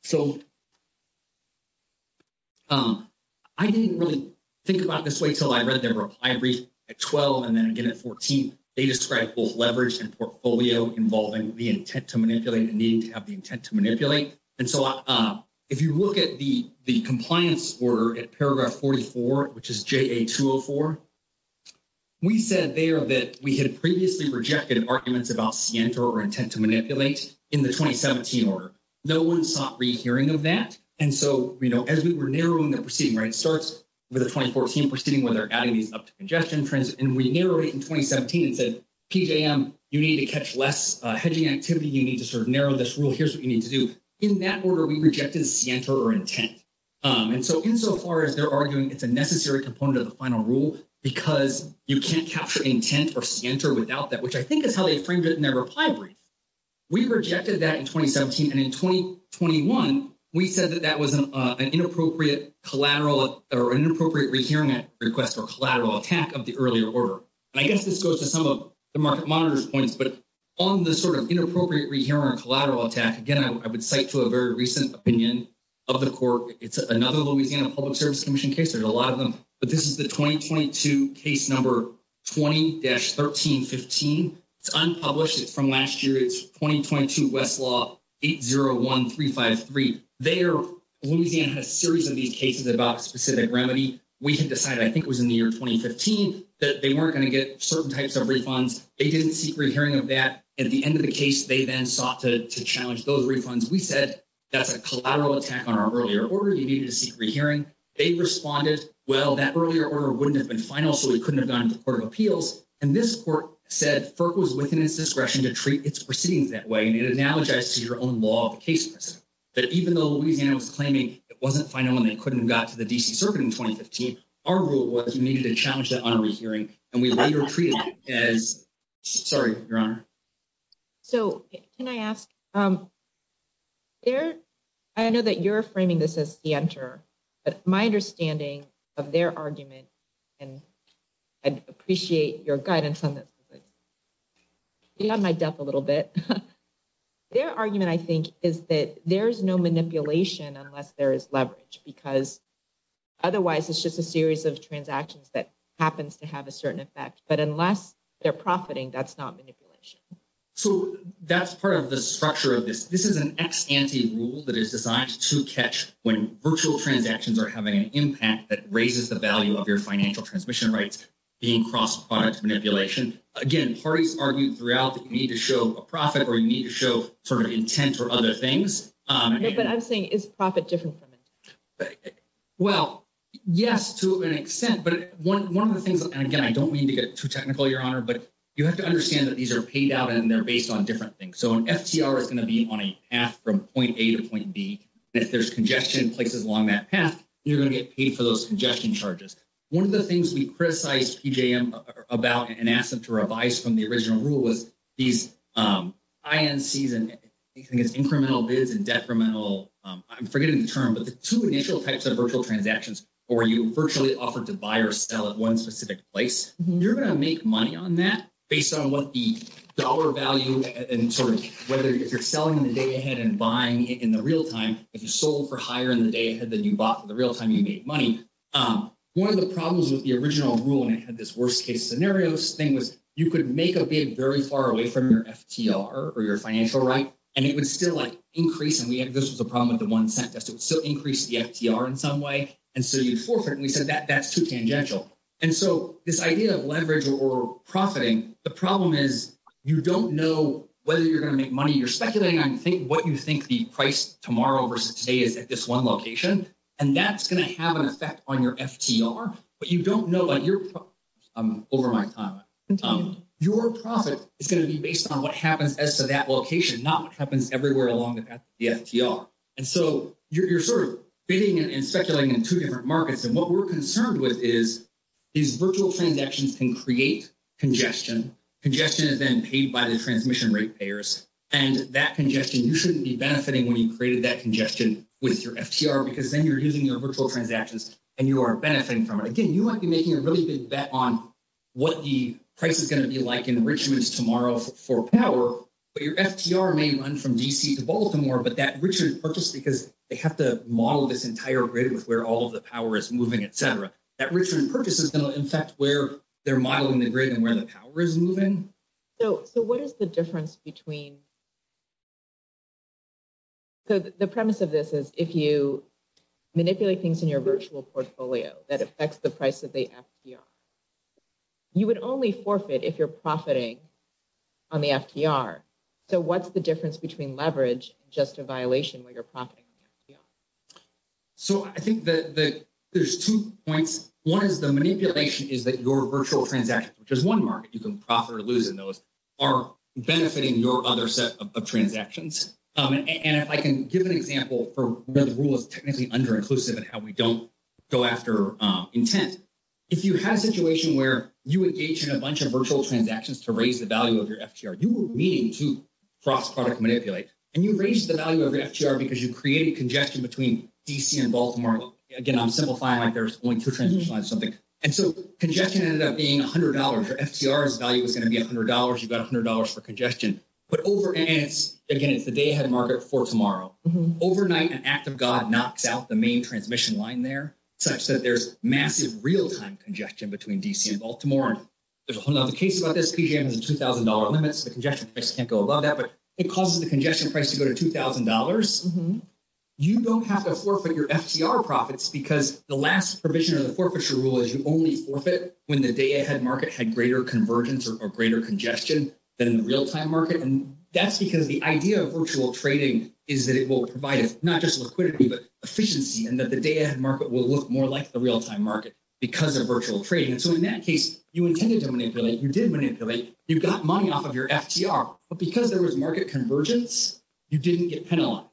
So. I didn't really think about this way till I read their reply brief at 12 and then again at 14, they described both leverage and portfolio involving the intent to manipulate and needing to have the intent to manipulate. And so, if you look at the, the compliance order at paragraph 44, which is J. A. 2 or 4. We said there that we had previously rejected arguments about center or intent to manipulate in the 2017 order. No, 1 sought re, hearing of that. And so, as we were narrowing the proceeding, right? It starts with the 2014 proceeding where they're adding these up to congestion trends. And we narrow it in 2017 and said, you need to catch less hedging activity. You need to sort of narrow this rule. Here's what you need to do in that order. We rejected center or intent. And so, insofar as they're arguing, it's a necessary component of the final rule, because you can't capture intent or center without that, which I think is how they framed it in their reply brief. We rejected that in 2017 and in 2021, we said that that was an inappropriate collateral or inappropriate re, hearing that request or collateral attack of the earlier order. And I guess this goes to some of the market monitors points, but. On the sort of inappropriate re, hearing collateral attack again, I would cite to a very recent opinion of the court. It's another Louisiana Public Service Commission case. There's a lot of them, but this is the 2022 case number 20 dash 1315. it's unpublished. It's from last year. It's 2022 Westlaw 801353. Louisiana had a series of these cases about specific remedy. We had decided, I think it was in the year 2015 that they weren't going to get certain types of refunds. They didn't seek re, hearing of that. At the end of the case, they then sought to challenge those refunds. We said, that's a collateral attack on our earlier order. You needed to seek re, hearing. They responded, well, that earlier order wouldn't have been final, so we couldn't have gone to court of appeals. And this court said FERC was within its discretion to treat its proceedings that way. And it analogizes to your own law of the case. But even though Louisiana was claiming it wasn't final, and they couldn't have got to the DC circuit in 2015, our rule was you needed to challenge that on re, hearing and we later treated it as sorry, your honor. So, can I ask there? I know that you're framing this as the enter, but my understanding of their argument, and I'd appreciate your guidance on this. Beyond my depth a little bit. Their argument, I think, is that there's no manipulation unless there is leverage, because otherwise it's just a series of transactions that happens to have a certain effect. But unless they're profiting, that's not manipulation. So, that's part of the structure of this. This is an ex ante rule that is designed to catch when virtual transactions are having an impact that raises the value of your financial transmission rights being cross product manipulation. Again, parties argued throughout that you need to show a profit or you need to show sort of intent or other things. But I'm saying is profit different from it. Well, yes, to an extent, but one of the things and again, I don't mean to get too technical your honor, but you have to understand that these are paid out and they're based on different things. So, an FCR is going to be on a path from point A to point B. If there's congestion places along that path, you're going to get paid for those congestion charges. One of the things we criticized PJM about and asked them to revise from the original rule was these INCs and incremental bids and decremental, I'm forgetting the term, but the two initial types of virtual transactions where you virtually offer to buy or sell at one specific place. You're going to make money on that based on what the dollar value and sort of whether you're selling the day ahead and buying in the real time. If you sold for higher in the day ahead than you bought in the real time, you made money. One of the problems with the original rule, and it had this worst case scenarios thing, was you could make a bid very far away from your FTR or your financial right, and it would still increase. And this was a problem with the one cent test. It would still increase the FTR in some way. And so you'd forfeit. And we said that's too tangential. And so this idea of leverage or profiting, the problem is you don't know whether you're going to make money. You're speculating on what you think the price tomorrow versus today is at this one location, and that's going to have an effect on your FTR. But you don't know what your – over my time. Your profit is going to be based on what happens as to that location, not what happens everywhere along the path of the FTR. And so you're sort of bidding and speculating in two different markets. And what we're concerned with is these virtual transactions can create congestion. Congestion is then paid by the transmission rate payers. And that congestion, you shouldn't be benefiting when you created that congestion with your FTR because then you're using your virtual transactions and you are benefiting from it. Again, you might be making a really big bet on what the price is going to be like in Richmond tomorrow for power, but your FTR may run from D.C. to Baltimore. But that Richmond purchase, because they have to model this entire grid with where all of the power is moving, et cetera, that Richmond purchase is going to affect where they're modeling the grid and where the power is moving. So what is the difference between – so the premise of this is if you manipulate things in your virtual portfolio that affects the price of the FTR, you would only forfeit if you're profiting on the FTR. So what's the difference between leverage and just a violation where you're profiting on the FTR? So I think that there's two points. One is the manipulation is that your virtual transactions, which is one market you can profit or lose in those, are benefiting your other set of transactions. And if I can give an example for where the rule is technically under-inclusive and how we don't go after intent. If you have a situation where you engage in a bunch of virtual transactions to raise the value of your FTR, you are meeting to cross-product manipulate. And you raise the value of your FTR because you created congestion between D.C. and Baltimore. Again, I'm simplifying like there's only two transactions or something. And so congestion ended up being $100. Your FTR's value is going to be $100. You've got $100 for congestion. Again, it's the day ahead market for tomorrow. Overnight, an act of God knocks out the main transmission line there such that there's massive real-time congestion between D.C. and Baltimore. There's a whole other case about this. PJM has a $2,000 limit, so the congestion price can't go above that. But it causes the congestion price to go to $2,000. You don't have to forfeit your FTR profits because the last provision of the forfeiture rule is you only forfeit when the day ahead market had greater convergence or greater congestion than the real-time market. And that's because the idea of virtual trading is that it will provide not just liquidity but efficiency and that the day ahead market will look more like the real-time market because of virtual trading. And so in that case, you intended to manipulate. You did manipulate. You got money off of your FTR. But because there was market convergence, you didn't get penalized.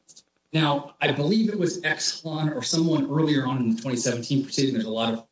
Now, I believe it was Exxon or someone earlier on in the 2017 proceeding – there's a lot of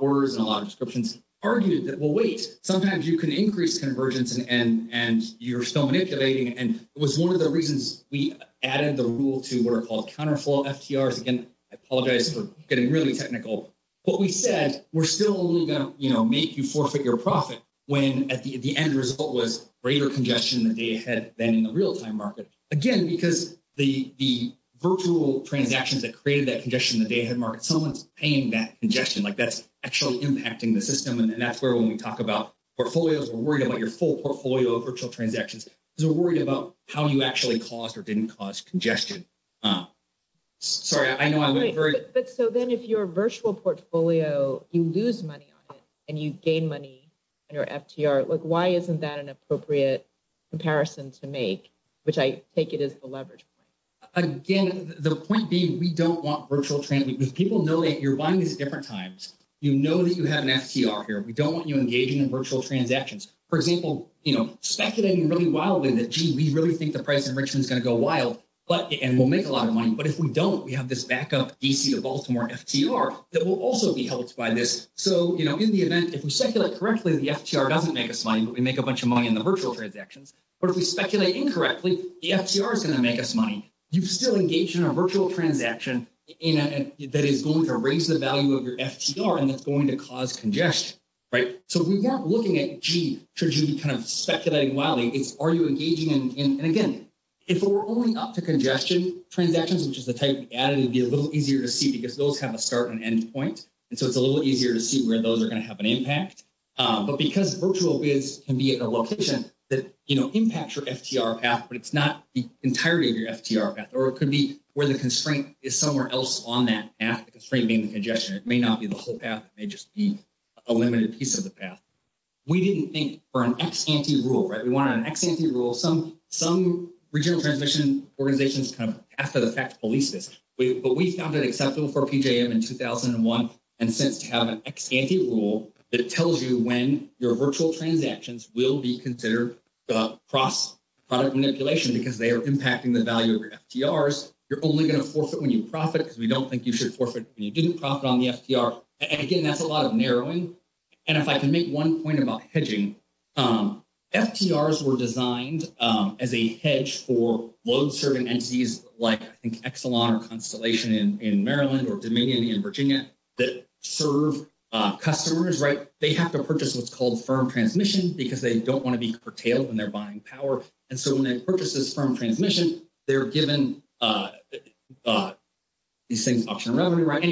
orders and a lot of descriptions – argued that, well, wait, sometimes you can increase convergence and you're still manipulating. And it was one of the reasons we added the rule to what are called counterflow FTRs. Again, I apologize for getting really technical. But we said we're still only going to make you forfeit your profit when the end result was greater congestion in the day ahead than in the real-time market. Again, because the virtual transactions that created that congestion in the day ahead market, someone's paying that congestion. Like, that's actually impacting the system. And that's where when we talk about portfolios, we're worried about your full portfolio of virtual transactions because we're worried about how you actually caused or didn't cause congestion. Sorry, I know I went very – But so then if you're a virtual portfolio, you lose money on it and you gain money on your FTR. Why isn't that an appropriate comparison to make, which I take it is the leverage point? Again, the point being we don't want virtual – because people know that you're buying these at different times. You know that you have an FTR here. We don't want you engaging in virtual transactions. For example, speculating really wildly that, gee, we really think the price enrichment is going to go wild and we'll make a lot of money. But if we don't, we have this backup DC to Baltimore FTR that will also be helped by this. So in the event, if we speculate correctly, the FTR doesn't make us money, but we make a bunch of money in the virtual transactions. But if we speculate incorrectly, the FTR is going to make us money. You've still engaged in a virtual transaction that is going to raise the value of your FTR and that's going to cause congestion. So we weren't looking at, gee, should you be kind of speculating wildly. It's are you engaging in – and again, if we're only up to congestion transactions, which is the type we added, it would be a little easier to see because those have a start and end point. And so it's a little easier to see where those are going to have an impact. But because virtual bids can be at a location that impacts your FTR path, but it's not the entirety of your FTR path, or it could be where the constraint is somewhere else on that path, the constraint being the congestion, it may not be the whole path, it may just be a limited piece of the path. We didn't think for an ex-ante rule, right, we wanted an ex-ante rule. Some regional transmission organizations kind of, after the fact, police this. But we found it acceptable for PJM in 2001 and since to have an ex-ante rule that tells you when your virtual transactions will be considered cross-product manipulation because they are impacting the value of your FTRs. You're only going to forfeit when you profit because we don't think you should forfeit when you didn't profit on the FTR. And again, that's a lot of narrowing. And if I can make one point about hedging, FTRs were designed as a hedge for load-serving entities like, I think, Exelon or Constellation in Maryland or Dominion in Virginia that serve customers, right? They have to purchase what's called firm transmission because they don't want to be curtailed when they're buying power. And so when they purchase this firm transmission, they're given these things, option of revenue, right? The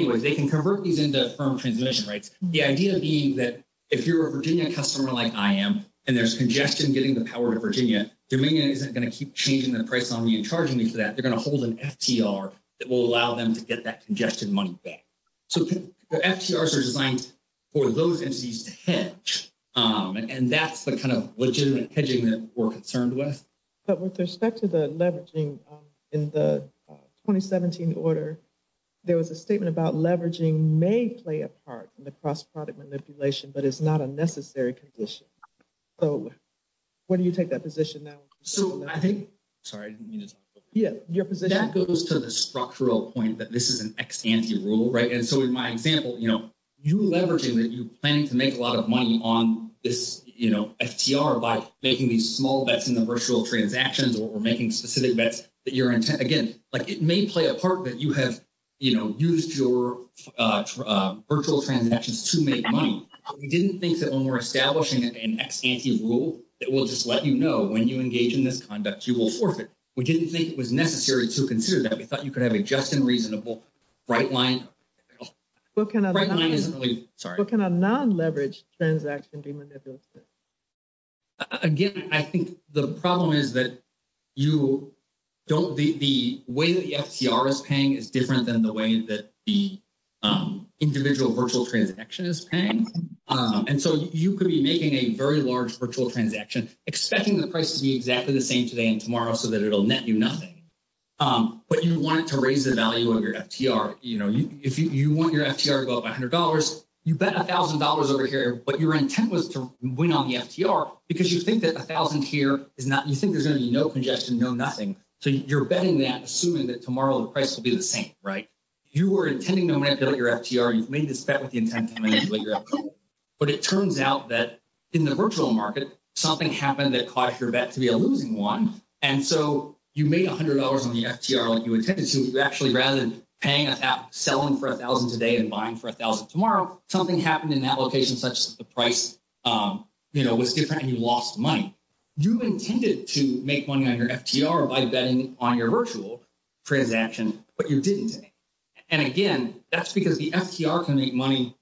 idea being that if you're a Virginia customer like I am and there's congestion getting the power to Virginia, Dominion isn't going to keep changing the price on me and charging me for that. They're going to hold an FTR that will allow them to get that congestion money back. So the FTRs are designed for those entities to hedge, and that's the kind of legitimate hedging that we're concerned with. But with respect to the leveraging in the 2017 order, there was a statement about leveraging may play a part in the cross-product manipulation, but it's not a necessary condition. So where do you take that position now? So I think, sorry, I didn't mean to talk. Yeah, your position. That goes to the structural point that this is an ex-ante rule, right? And so in my example, you know, you leveraging that you're planning to make a lot of money on this, you know, making small bets in the virtual transactions or making specific bets that you're, again, like it may play a part that you have, you know, used your virtual transactions to make money. We didn't think that when we're establishing an ex-ante rule that will just let you know when you engage in this conduct, you will forfeit. We didn't think it was necessary to consider that. We thought you could have a just and reasonable bright line. What can a non-leveraged transaction be manipulated? Again, I think the problem is that you don't, the way the FTR is paying is different than the way that the individual virtual transaction is paying. And so you could be making a very large virtual transaction, expecting the price to be exactly the same today and tomorrow so that it'll net you nothing. But you want it to raise the value of your FTR. You know, if you want your FTR to go up $100, you bet $1,000 over here. But your intent was to win on the FTR because you think that 1,000 here is not, you think there's going to be no congestion, no nothing. So you're betting that, assuming that tomorrow the price will be the same, right? You were intending to manipulate your FTR. You've made this bet with the intent to manipulate your FTR. But it turns out that in the virtual market, something happened that caused your bet to be a losing one. And so you made $100 on the FTR like you intended to. Actually, rather than paying, selling for 1,000 today and buying for 1,000 tomorrow, something happened in that location such that the price, you know, was different and you lost money. You intended to make money on your FTR by betting on your virtual transaction, but you didn't. And again, that's because the FTR can make money.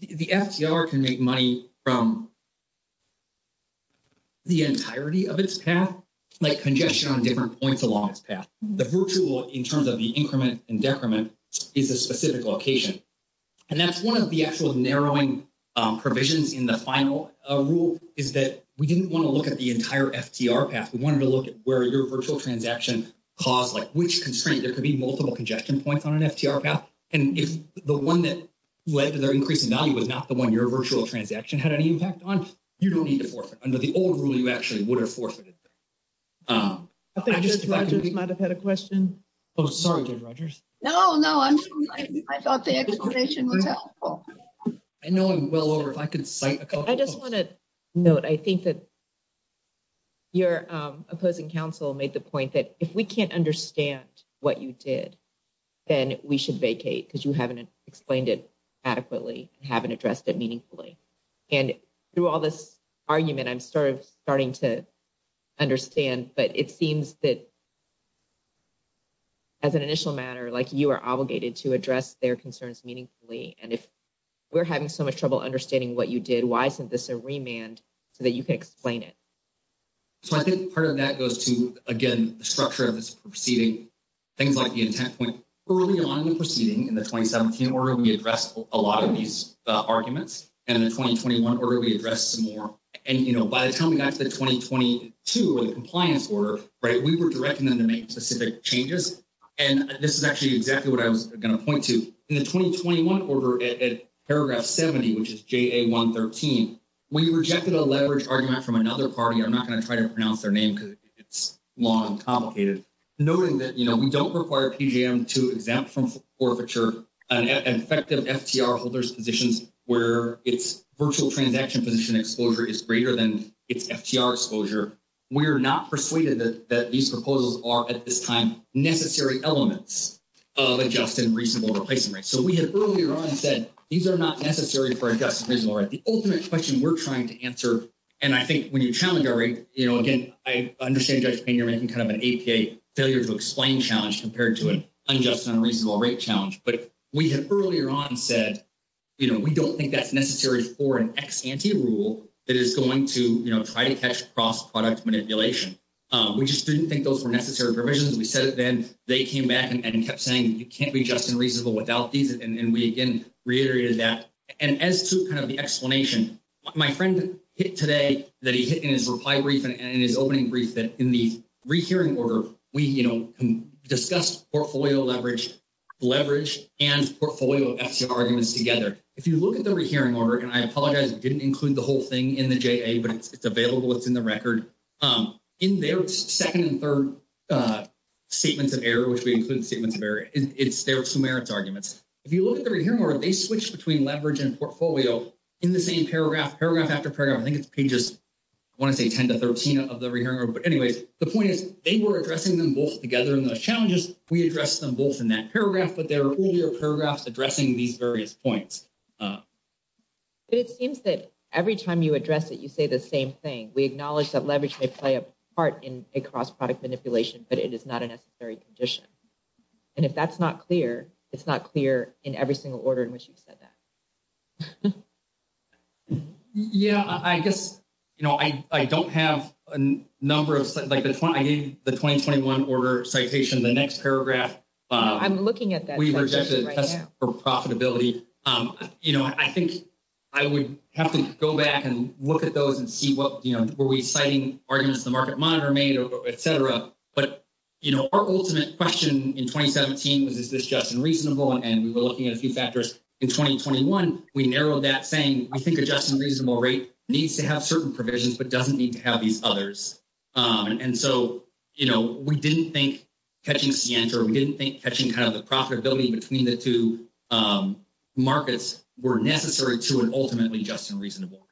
The FTR can make money from the entirety of its path, like congestion on different points along its path. The virtual, in terms of the increment and decrement, is a specific location. And that's one of the actual narrowing provisions in the final rule is that we didn't want to look at the entire FTR path. We wanted to look at where your virtual transaction caused, like, which constraint. There could be multiple congestion points on an FTR path. And if the one that led to their increasing value was not the one your virtual transaction had any impact on, you don't need to forfeit. Under the old rule, you actually would have forfeited. I think Judge Rogers might have had a question. Oh, sorry, Judge Rogers. No, no. I thought the explanation was helpful. I know I'm well over. If I could cite a couple of quotes. I just want to note, I think that your opposing counsel made the point that if we can't understand what you did, then we should vacate because you haven't explained it adequately and haven't addressed it meaningfully. And through all this argument, I'm sort of starting to understand, but it seems that as an initial matter, like, you are obligated to address their concerns meaningfully. And if we're having so much trouble understanding what you did, why isn't this a remand so that you can explain it? So, I think part of that goes to, again, the structure of this proceeding. Things like the intent point early on in the proceeding in the 2017 order, we addressed a lot of these arguments. And in the 2021 order, we addressed some more. And, you know, by the time we got to the 2022 or the compliance order, right, we were directing them to make specific changes. And this is actually exactly what I was going to point to. In the 2021 order at paragraph 70, which is JA113, we rejected a leverage argument from another party. I'm not going to try to pronounce their name because it's long and complicated. Noting that, you know, we don't require PGM to exempt from forfeiture an effective FTR holder's positions where its virtual transaction position exposure is greater than its FTR exposure. We're not persuaded that these proposals are, at this time, necessary elements of a just and reasonable replacement rate. So, we had earlier on said these are not necessary for a just and reasonable rate. The ultimate question we're trying to answer, and I think when you challenge our rate, you know, again, I understand, Judge Payne, you're making kind of an APA failure to explain challenge compared to an unjust and unreasonable rate challenge. But we had earlier on said, you know, we don't think that's necessary for an ex ante rule that is going to, you know, try to catch cross-product manipulation. We just didn't think those were necessary provisions. We said it then. They came back and kept saying you can't be just and reasonable without these. And we, again, reiterated that. And as to kind of the explanation, my friend hit today that he hit in his reply brief and in his opening brief that in the rehearing order, we, you know, discussed portfolio leverage and portfolio FTR arguments together. If you look at the rehearing order, and I apologize, we didn't include the whole thing in the JA, but it's available. It's in the record. In their second and third statements of error, which we include statements of error, it's their Sumerian arguments. If you look at the rehearing order, they switched between leverage and portfolio in the same paragraph, paragraph after paragraph. I think it's pages, I want to say 10 to 13 of the rehearing order. But anyways, the point is they were addressing them both together in those challenges. We addressed them both in that paragraph, but there are earlier paragraphs addressing these various points. But it seems that every time you address it, you say the same thing. We acknowledge that leverage may play a part in a cross product manipulation, but it is not a necessary condition. And if that's not clear, it's not clear in every single order in which you've said that. Yeah, I guess, you know, I don't have a number of like, I gave the 2021 order citation the next paragraph. I'm looking at that. We rejected profitability. You know, I think I would have to go back and look at those and see what were we citing arguments the market monitor made, et cetera. But, you know, our ultimate question in 2017 was, is this just unreasonable? And we were looking at a few factors in 2021. We narrowed that saying, I think a just and reasonable rate needs to have certain provisions, but doesn't need to have these others. And so, you know, we didn't think catching center, we didn't think catching kind of the profitability between the two markets were necessary to an ultimately just and reasonable.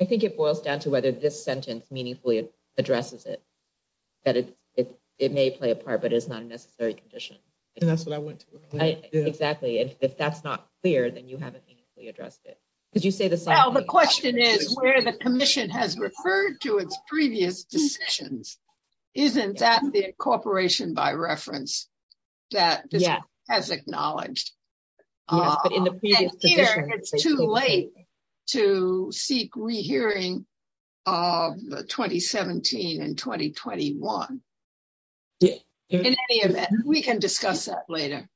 I think it boils down to whether this sentence meaningfully addresses it. That it may play a part, but it's not a necessary condition. And that's what I went to. Exactly. And if that's not clear, then you haven't addressed it. Could you say the question is where the commission has referred to its previous decisions? Isn't that the corporation by reference? That has acknowledged. It's too late to seek re, hearing. Of the 2017 and 2021. Yeah, we can discuss that later.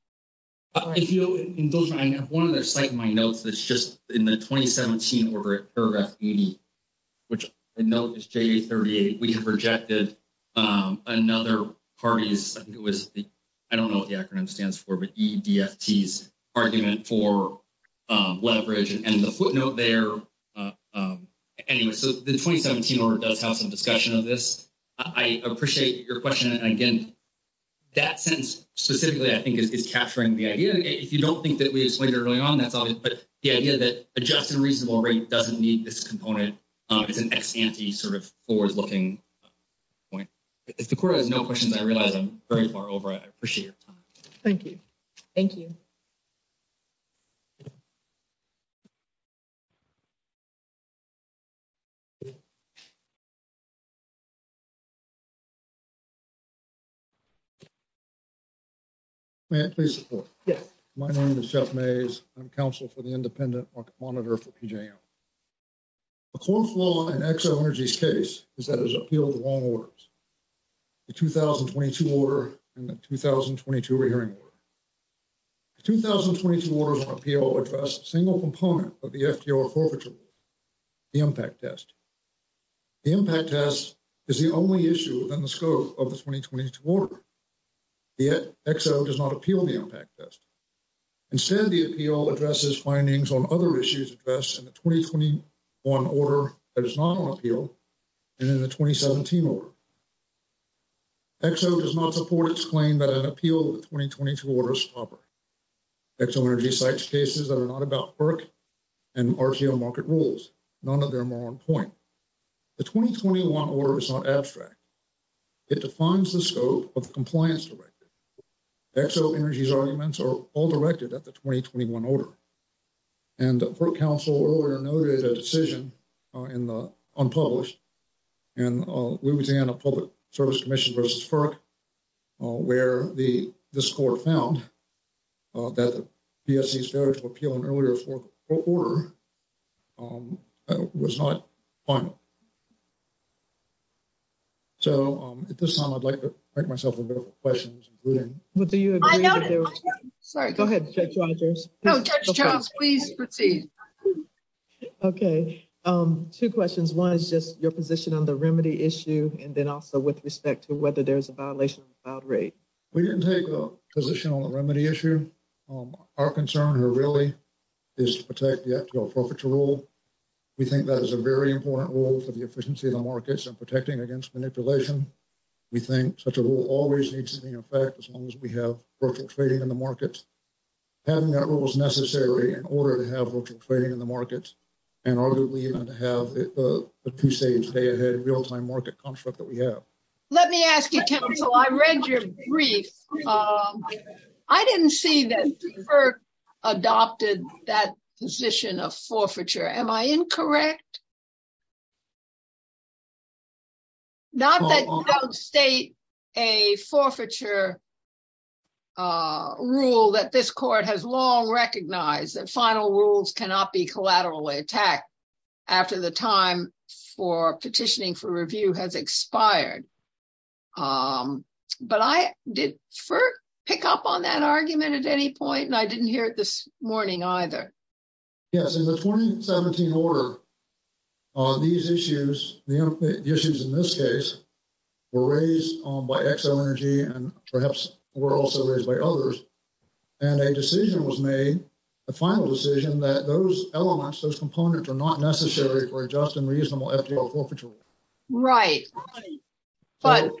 If you have one of their site, my notes, that's just in the 2017 order paragraph 80. Which I know is 38, we have rejected another parties. I think it was. I don't know what the acronym stands for, but argument for leverage and the footnote there. Anyway, so the 2017 does have some discussion of this. I appreciate your question again. That sense specifically, I think, is capturing the idea. If you don't think that we explained early on, that's all. But the idea that adjusted reasonable rate doesn't need this component. It's an ex ante sort of forward looking point. If the quarter has no questions, I realize I'm very far over. I appreciate your time. Thank you. Thank you. Thank you. Please. Yes. My name is Jeff maze. I'm counsel for the independent monitor for. The core flaw and X energy's case is that has appealed the wrong words. The 2022 order and the 2022 hearing. 2022 orders on appeal address single component of the. The impact test, the impact test is the only issue within the scope of the 2022 order. Yet does not appeal the impact test. Instead, the appeal addresses findings on other issues address and the 2021 order that is not on appeal. And in the 2017, or XO does not support its claim that an appeal 2022 orders. So, energy sites cases that are not about work. And RTO market rules, none of them are on point. The 2021 order is not abstract. It defines the scope of compliance directed. XO energy's arguments are all directed at the 2021 order. And the council earlier noted a decision. In the unpublished and we would say on a public service commission versus. Where the, the score found. That the appeal in earlier for. Was not on. So, at this time, I'd like to make myself a bit of questions. What do you sorry? Go ahead. Please proceed. Okay, 2 questions. 1 is just your position on the remedy issue. And then also with respect to whether there's a violation about rate. We didn't take a position on the remedy issue. Our concern here really is to protect the rule. We think that is a very important role for the efficiency of the markets and protecting against manipulation. We think such a rule always needs to be in effect as long as we have virtual trading in the markets. Having that rule is necessary in order to have virtual trading in the markets. And arguably even to have a crusade stay ahead of real time market construct that we have. Let me ask you, I read your brief. I didn't see that. Adopted that position of forfeiture. Am I incorrect? Not that state a forfeiture. Rule that this court has long recognized that final rules cannot be collateral attack. After the time for petitioning for review has expired. But I did pick up on that argument at any point and I didn't hear it this morning either. Yes, in the 2017 order. On these issues, the issues in this case. We're raised by X energy and perhaps we're also raised by others. And a decision was made the final decision that those elements, those components are not necessary for adjusting reasonable. Right. But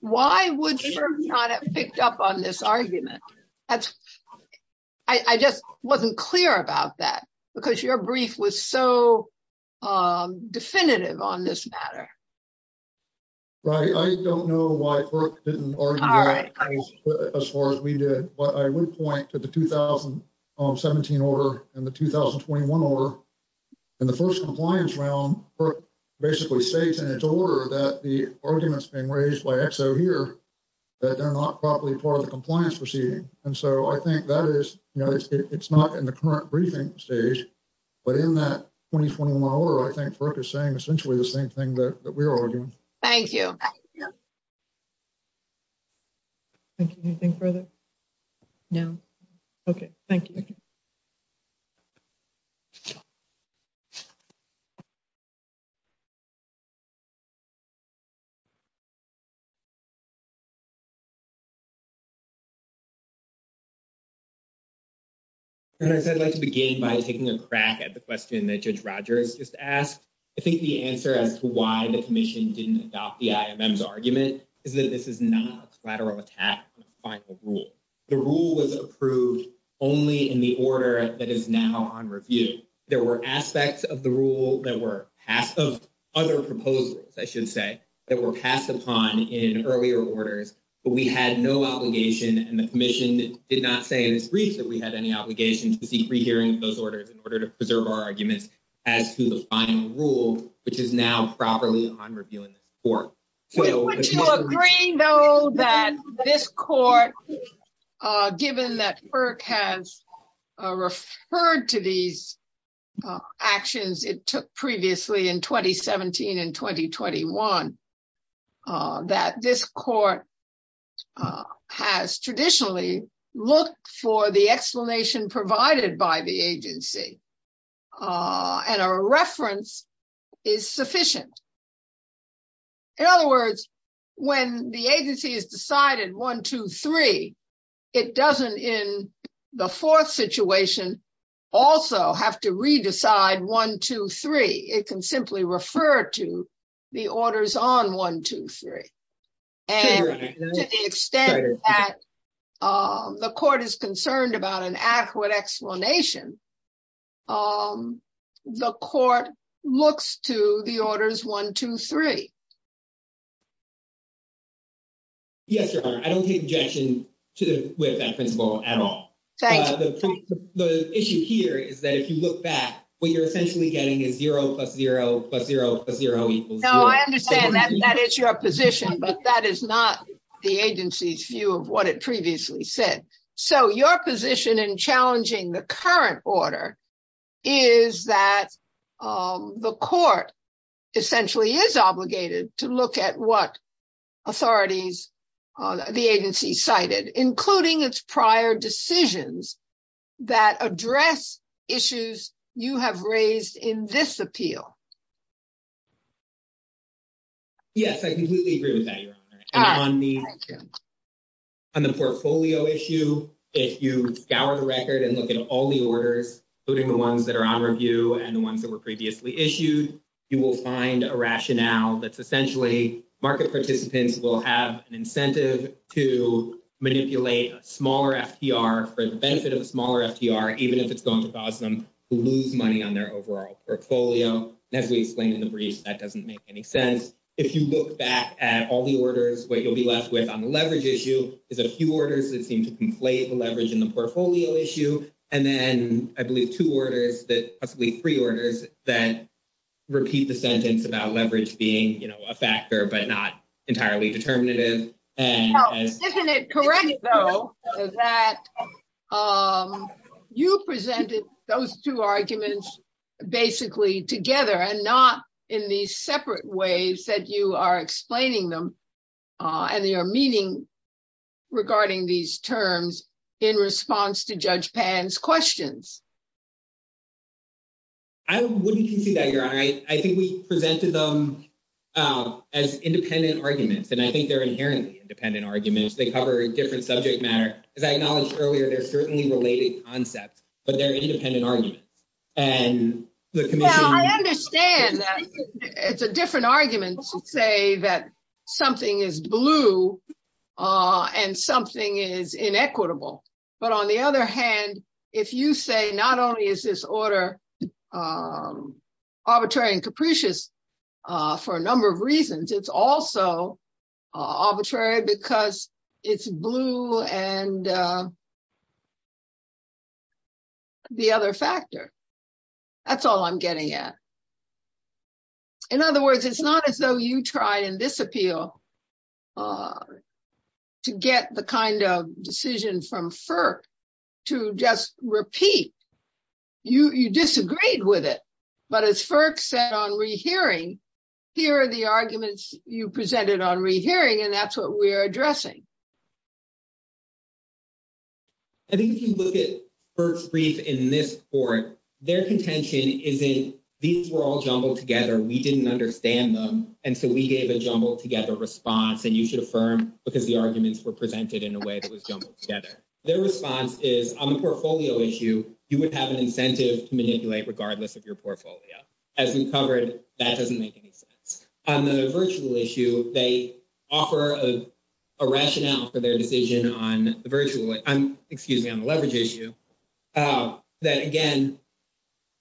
why would you not have picked up on this argument? That's I just wasn't clear about that because your brief was so definitive on this matter. Right. I don't know why as far as we did, but I would point to the 2017 order and the 2021 order. And the 1st compliance round basically states in its order that the arguments being raised by X. So, here that they're not probably part of the compliance proceeding. And so I think that is, you know, it's not in the current briefing stage. But in that 2021, I think is saying essentially the same thing that we're arguing. Thank you. Thank you. Anything further now. Okay. Thank you. I'd like to begin by taking a crack at the question that judge Rogers just asked. I think the answer as to why the commission didn't adopt the argument is that this is not a lateral attack. The rule was approved only in the order that is now on review. There were aspects of the rule that were passed of other proposals. I should say that were passed upon in earlier orders. But we had no obligation and the commission did not say in this brief that we had any obligation to seek rehearing those orders in order to preserve our arguments. As to the final rule, which is now properly on reviewing. Would you agree, though, that this court, given that FERC has referred to these actions it took previously in 2017 and 2021, that this court has traditionally looked for the explanation provided by the agency and a reference is sufficient? In other words, when the agency has decided 1, 2, 3, it doesn't in the fourth situation also have to re-decide 1, 2, 3. It can simply refer to the orders on 1, 2, 3. And to the extent that the court is concerned about an accurate explanation, the court looks to the orders 1, 2, 3. Yes, Your Honor, I don't take objection to that principle at all. The issue here is that if you look back, what you're essentially getting is 0 plus 0 plus 0 plus 0 equals 0. No, I understand that it's your position, but that is not the agency's view of what it previously said. So your position in challenging the current order is that the court essentially is obligated to look at what authorities, the agency cited, including its prior decisions that address issues you have raised in this appeal. Yes, I completely agree with that, Your Honor. On the portfolio issue, if you scour the record and look at all the orders, including the ones that are on review and the ones that were previously issued, you will find a rationale that's essentially market participants will have an incentive to manipulate a smaller FTR for the benefit of a smaller FTR, even if it's going to cause them to lose money on their overall portfolio. As we explained in the brief, that doesn't make any sense. If you look back at all the orders, what you'll be left with on the leverage issue is a few orders that seem to conflate the leverage in the portfolio issue. And then I believe two orders, possibly three orders, that repeat the sentence about leverage being a factor but not entirely determinative. Isn't it correct, though, that you presented those two arguments basically together and not in these separate ways that you are explaining them and they are meeting regarding these terms in response to Judge Pan's questions? I wouldn't concede that, Your Honor. I think we presented them as independent arguments, and I think they're inherently independent arguments. They cover a different subject matter. As I acknowledged earlier, they're certainly related concepts, but they're independent arguments. Well, I understand that it's a different argument to say that something is blue and something is inequitable. But on the other hand, if you say not only is this order arbitrary and capricious for a number of reasons, it's also arbitrary because it's blue and the other factor. That's all I'm getting at. In other words, it's not as though you try and disappeal to get the kind of decision from FERC to just repeat. You disagreed with it. But as FERC said on rehearing, here are the arguments you presented on rehearing, and that's what we're addressing. I think if you look at FERC's brief in this court, their contention is in these were all jumbled together. We didn't understand them. And so we gave a jumbled together response, and you should affirm because the arguments were presented in a way that was jumbled together. Their response is on the portfolio issue, you would have an incentive to manipulate regardless of your portfolio. As we covered, that doesn't make any sense. On the virtual issue, they offer a rationale for their decision on the virtual, excuse me, on the leverage issue. That again,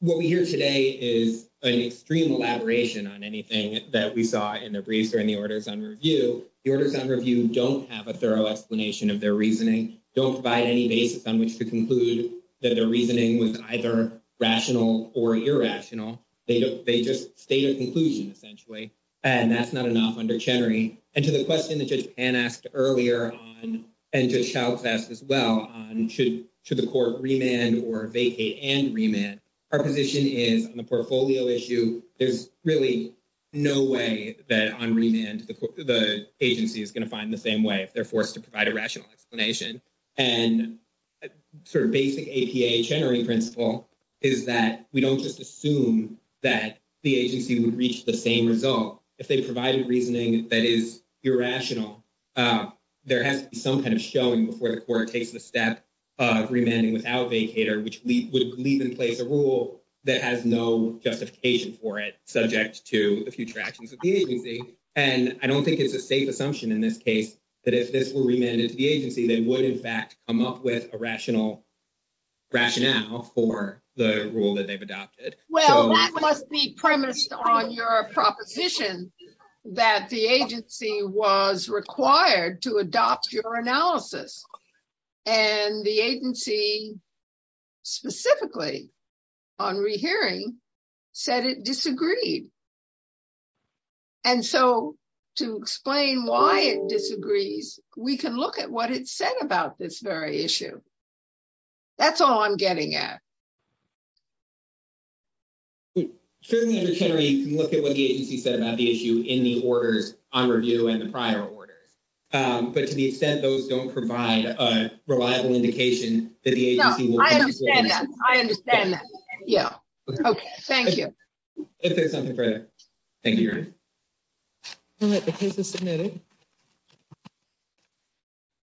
what we hear today is an extreme elaboration on anything that we saw in the briefs or in the orders on review. The orders on review don't have a thorough explanation of their reasoning, don't provide any basis on which to conclude that their reasoning was either rational or irrational. They just state a conclusion, essentially, and that's not enough under Chenery. And to the question that Judge Pan asked earlier on, and Judge Shouts asked as well on should the court remand or vacate and remand, our position is on the portfolio issue. There's really no way that on remand the agency is going to find the same way if they're forced to provide a rational explanation. And sort of basic APA Chenery principle is that we don't just assume that the agency would reach the same result. If they provided reasoning that is irrational, there has to be some kind of showing before the court takes the step of remanding without vacater, which would leave in place a rule that has no justification for it subject to the future actions of the agency. And I don't think it's a safe assumption in this case that if this were remanded to the agency, they would in fact come up with a rational rationale for the rule that they've adopted. Well, that must be premised on your proposition that the agency was required to adopt your analysis. And the agency, specifically on rehearing, said it disagreed. And so to explain why it disagrees, we can look at what it said about this very issue. That's all I'm getting at. You can look at what the agency said about the issue in the orders on review and the prior orders. But to the extent those don't provide a reliable indication that the agency. I understand that. Yeah. Okay. Thank you. Thank you.